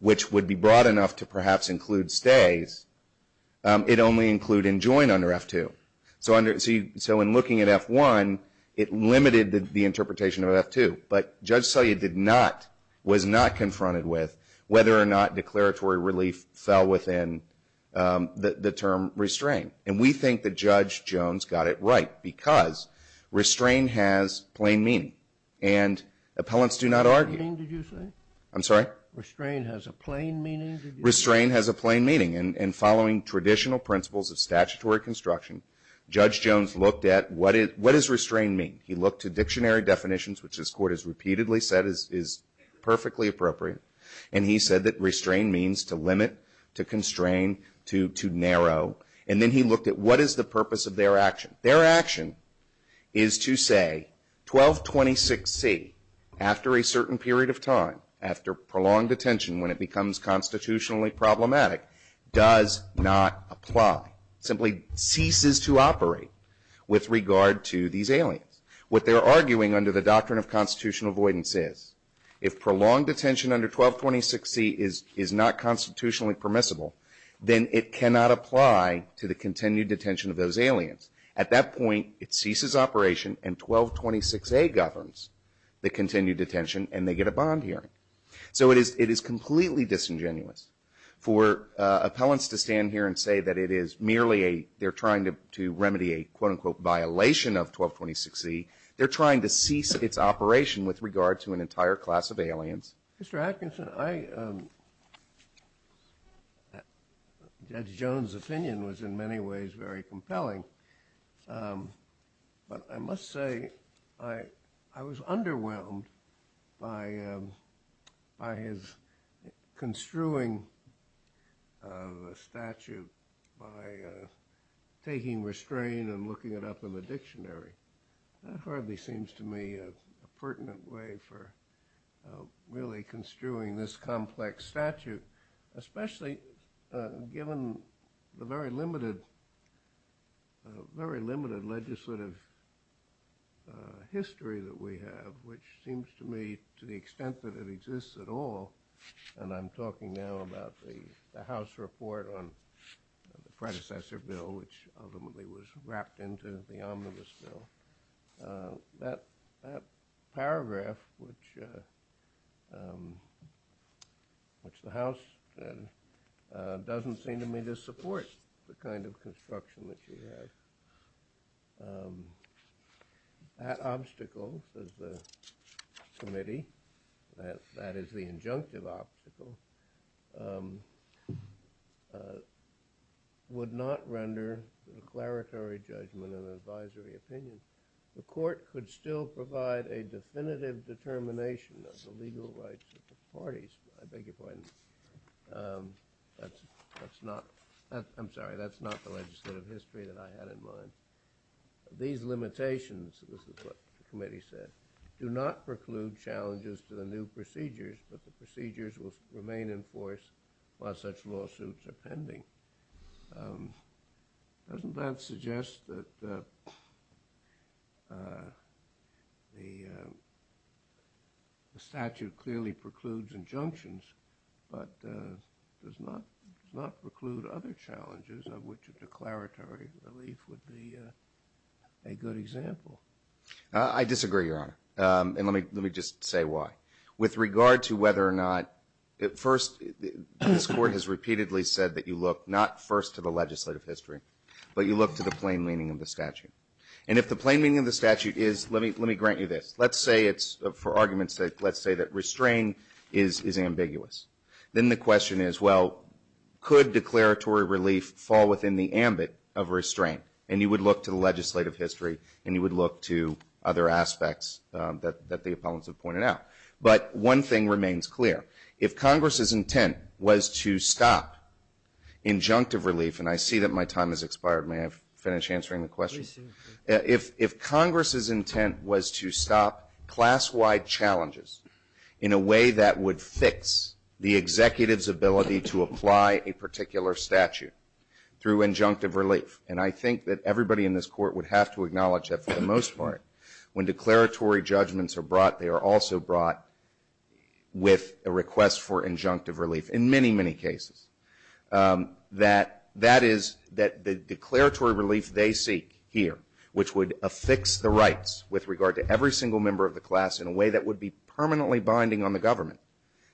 which would be broad enough to perhaps include stays. It only included enjoy under F2. So in looking at F1, it limited the interpretation of F2. But Judge Selya did not, was not confronted with whether or not declaratory relief fell within the term restrain. And we think that Judge Jones got it right because restrain has plain meaning. And appellants do not argue. I'm sorry? Restrain has a plain meaning? Restrain has a plain meaning. And following traditional principles of statutory construction, Judge Jones looked at what does restrain mean? He looked to dictionary definitions, which his court has repeatedly said is perfectly appropriate. And he said that restrain means to limit, to constrain, to narrow. And then he looked at what is the purpose of their action? Their action is to say 1226C, after a certain period of time, after prolonged detention, when it becomes constitutionally problematic, does not apply, simply ceases to operate with regard to these aliens. What they're arguing under the doctrine of constitutional avoidance is if prolonged detention under 1226C is not constitutionally permissible, then it cannot apply to the continued detention of those aliens. At that point, it ceases operation, and 1226A governs the continued detention, and they get a bond hearing. So it is completely disingenuous for appellants to stand here and say that it is merely a, they're trying to remedy a, quote unquote, violation of 1226C. They're trying to cease its operation with regard to an entire class of aliens. Mr. Atkinson, I, Judge Jones' opinion was in many ways very compelling. But I must say, I was underwhelmed by his construing of a statute by taking restraint and looking it up in the dictionary. That hardly seems to me a pertinent way for a judge to be really construing this complex statute, especially given the very limited, very limited legislative history that we have, which seems to me to the extent that it exists at all, and I'm talking now about the House report on the predecessor bill, which ultimately was wrapped into the omnibus bill. That paragraph, which, which the House doesn't seem to me to support the kind of construction that you have. That obstacle, as the committee, that is the injunctive obstacle, would not render a declaratory judgment and advisory opinion. The court could still provide a definitive determination of the legal rights of the parties. I beg your pardon. That's not, I'm sorry, that's not the legislative history that I had in mind. These limitations, this is what the committee said, do not preclude challenges to the new procedures, but the procedures will remain enforced while such lawsuits are pending. Doesn't that suggest that the statute clearly precludes injunctions, but does not preclude other challenges of which a declaratory relief would be a good example? I disagree, Your Honor. And let me just say why. With regard to whether or not, at first, this court has repeatedly said that you look not first to the legislative history, but you look to the plain meaning of the statute. And if the plain meaning of the statute is, let me grant you this, let's say it's, for argument's sake, let's say that restraint is ambiguous. Then the question is, well, could declaratory relief fall within the ambit of restraint? And you would look to the legislative history and you would look to other aspects that the opponents have pointed out. But one thing remains clear. If Congress's intent was to stop injunctive relief, and I see that my time has expired, may I finish answering the question? If Congress's intent was to stop class-wide challenges in a way that would fix the executive's ability to apply a particular statute through injunctive relief, and I think that everybody in this court would have to acknowledge that for the most part, when declaratory judgments are brought, they are also brought with a request for injunctive relief in many, many cases. That is, that the declaratory relief they seek here, which would affix the rights with regard to every single member of the class in a way that would be permanently binding on the government,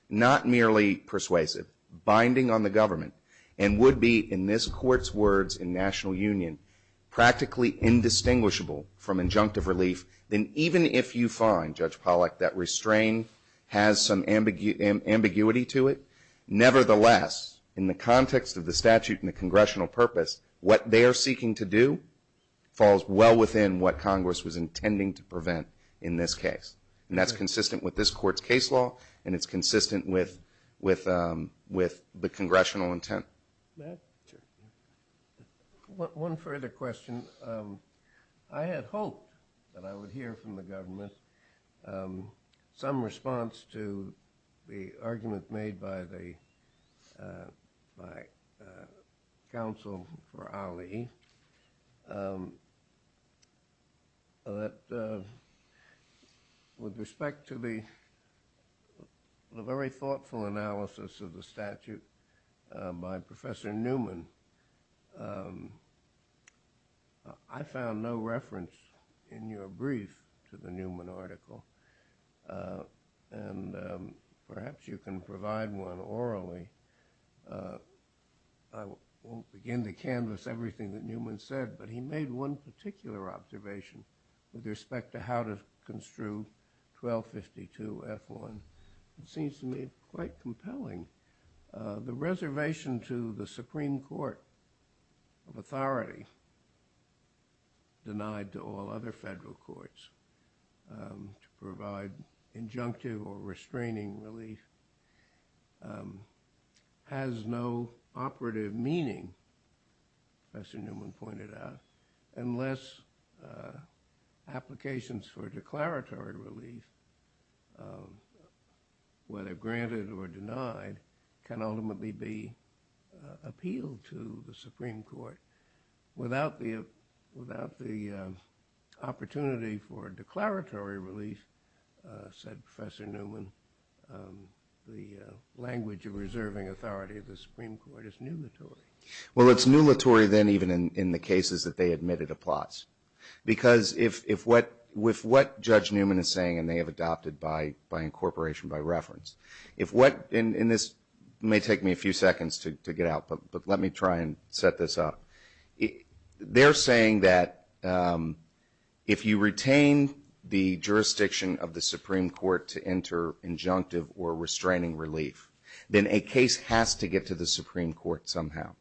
not merely persuasive, binding on the government, and would be in this court's words in national union, practically indistinguishable from injunctive relief, then even if you find, Judge Pollack, that restraint has some ambiguity to it, nevertheless, in the context of the statute and the congressional purpose, what they are doing falls well within what Congress was intending to prevent in this case, and that's consistent with this court's case law, and it's consistent with the congressional intent. One further question. I had hoped that I would hear from the government some response to the argument made by the counsel for Ali, that with respect to the very thoughtful analysis of the statute by Professor Newman, I found no reference in your brief to the Newman article, and perhaps you can provide I won't begin to canvas everything that Newman said, but I think he made one particular observation with respect to how to construe 1252F1. It seems to me quite compelling. The reservation to the Supreme Court of Authority, denied to all other federal courts to provide injunctive or restraining relief, has no operative meaning, Professor Newman pointed out, unless applications for declaratory relief, whether granted or denied, can ultimately be appealed to the Supreme Court. Without the opportunity for declaratory relief, said Professor Newman, the language of reserving authority of the Supreme Court is numatory. Well, it's numatory then even in the cases that they admitted to plots. Because with what Judge Newman is saying, and they have adopted by incorporation, by reference, if what, and this may take me a few seconds to get out, but let me try and set this up. They're saying that if you retain the jurisdiction of the Supreme Court to enter injunctive or restraining relief, then a case has to get to the Supreme Court somehow.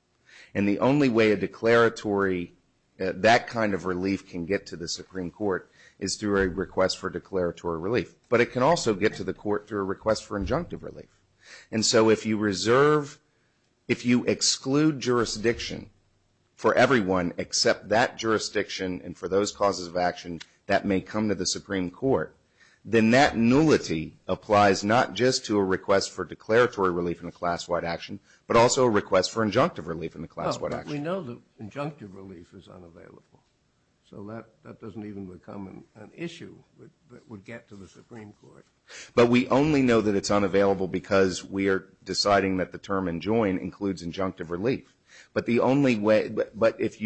And the only way a declaratory, that kind of relief can get to the Supreme Court is through a request for declaratory relief. But it can also get to the court through a request for injunctive relief. And so if you exclude jurisdiction for everyone except that jurisdiction and for those causes of action that may come to the Supreme Court, then that nullity applies not just to a request for declaratory relief in a class-wide action, but also a request for injunctive relief in a class-wide action. But we know that injunctive relief is unavailable. So that doesn't even become an issue that would get to the Supreme Court. But we only know that it's unavailable because we are deciding that the term enjoined includes injunctive relief. But if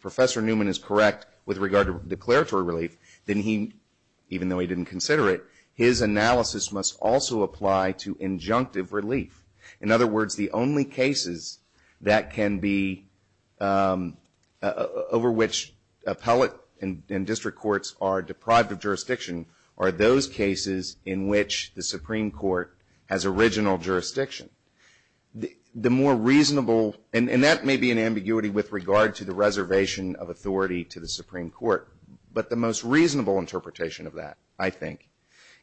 Professor Newman is correct with regard to declaratory relief, even though he didn't consider it, his analysis must also apply to injunctive relief. In other words, the only cases that can be over which appellate and district courts are deprived of jurisdiction are those cases in which the Supreme Court has original jurisdiction. The more reasonable and that may be an ambiguity with regard to the reservation of authority to the Supreme Court, but the most reasonable interpretation of that, I think,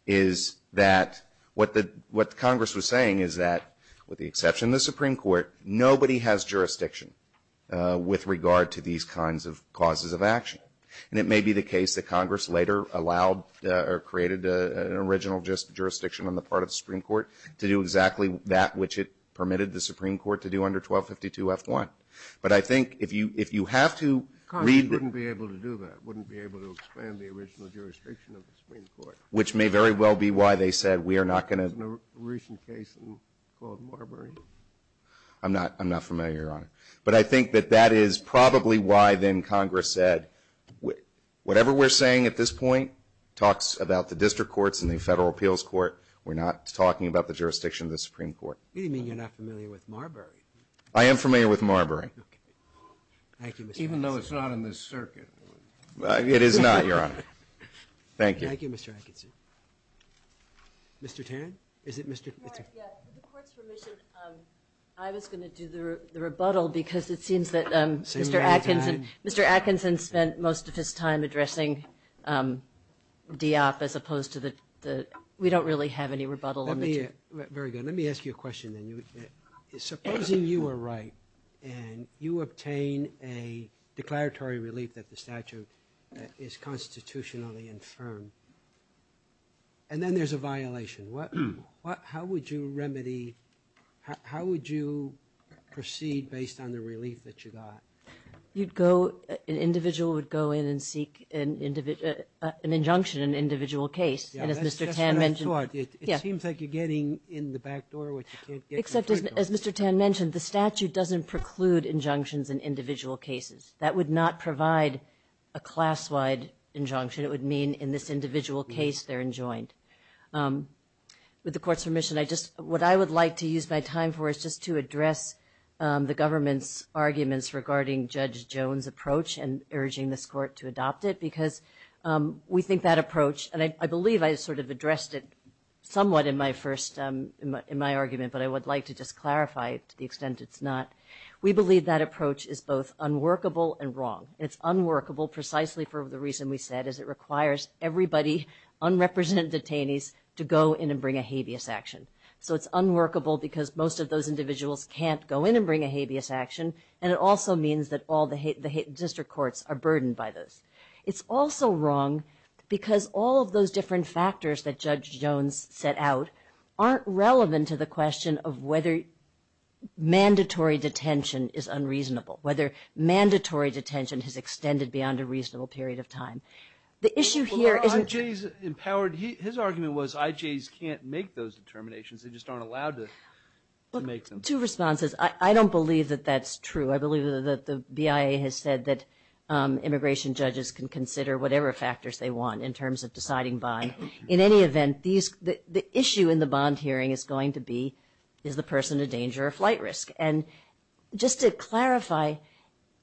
is that what Congress was able to do is that with the exception of the Supreme Court, nobody has jurisdiction with regard to these kinds of causes of action. And it may be the case that Congress later allowed or created an original jurisdiction on the part of the Supreme Court to do exactly that which it permitted the Supreme Court to do under 1252F1. But I think if you have to read... Congress wouldn't be able to do that, wouldn't be able to expand the original jurisdiction of the Supreme Court. Which may very well be why they said we are not going to... In a recent case called Marbury. I'm not familiar, Your Honor. But I think that that is probably why then Congress said, whatever we're saying at this point, talks about the district courts and the federal appeals court, we're not talking about the jurisdiction of the Supreme Court. You mean you're not familiar with Marbury? I am familiar with Marbury. Even though it's not in the circuit. It is not, Your Honor. Thank you. Thank you, Mr. Atkinson. Mr. Tan? Is it Mr. Tan? I was going to do the rebuttal because it seems that Mr. Atkinson spent most of his time addressing the op as opposed to the... We don't really have any rebuttal. Very good. right and you obtain a declaratory relief that the statute is constitutionally infirmed. Would you be willing to do that? Would you be willing to do that? And then there's a violation. How would you remedy... How would you proceed based on the relief that you got? An individual would go in and seek an injunction in an individual And as Mr. Tan mentioned... It seems like you're getting in the back door which you can't get in the front door. Except as Mr. Tan mentioned, the statute doesn't preclude injunctions in individual cases. That would not provide a class-wide injunction. It would mean in this individual case they're enjoined. With the court's permission, what I would like to use my time for is just to address the government's arguments regarding Judge Jones' approach and urging this court to adopt it because we think that approach and I believe I sort of addressed it somewhat in my first... in my argument but I would like to just clarify it to the extent it's not. We believe that approach is both unworkable and wrong. It's unworkable precisely for the reason we said is it requires everybody, unrepresented detainees to go in and bring a habeas action. So it's unworkable because most of those individuals can't go in and bring a habeas action and it also means that all the district courts are burdened by this. It's also wrong because all of those different factors that Judge Jones set out aren't relevant to the question of whether mandatory detention is unreasonable, whether mandatory detention has extended beyond a reasonable period of time. The issue here is... Well, IJ's empowered... His argument was IJ's can't make those determinations, they just aren't allowed to make them. Two responses. I don't believe that that's true. I believe that the BIA has said that immigration judges can consider whatever factors they want in terms of deciding bond. In any event, the issue in the bond hearing is going to be is the person in danger of flight risk? Just to clarify,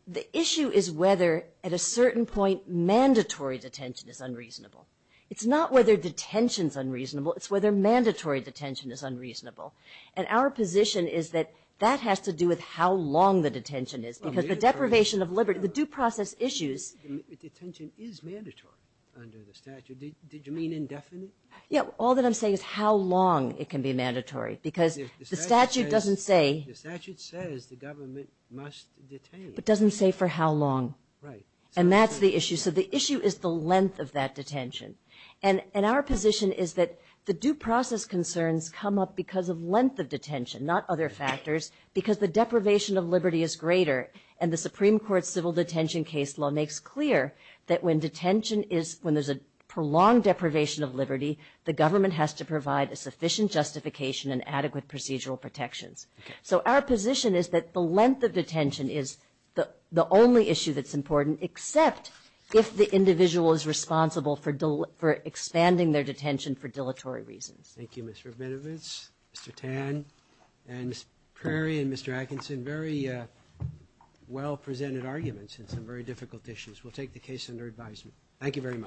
the issue is whether at a certain point mandatory detention is unreasonable. It's not whether detention is unreasonable, it's whether mandatory detention is unreasonable. Our position is that that has to do with how long the detention is because the deprivation of liberty... The due process issues... Detention is mandatory under the statute. Did you mean indefinite? All that I'm saying is how long it can be mandatory because the statute doesn't say... The statute says the government must detain. It doesn't say for how long. Right. That's the issue. The issue is the length of that detention. Our position is that the due process concerns come up because of length of detention, not other factors because the deprivation of liberty is greater. The Supreme Court civil does not provide a sufficient justification and adequate procedural protection. So our position is that the length of detention is the only issue that's important except if the individual is responsible for expanding their detention for dilatory reasons. Thank you, Ms. Rabinowitz, Mr. Tan, and Mr. Prairie, and Mr. Atkinson. Very well presented arguments and very difficult issues. We'll take the case under advisement. Thank you very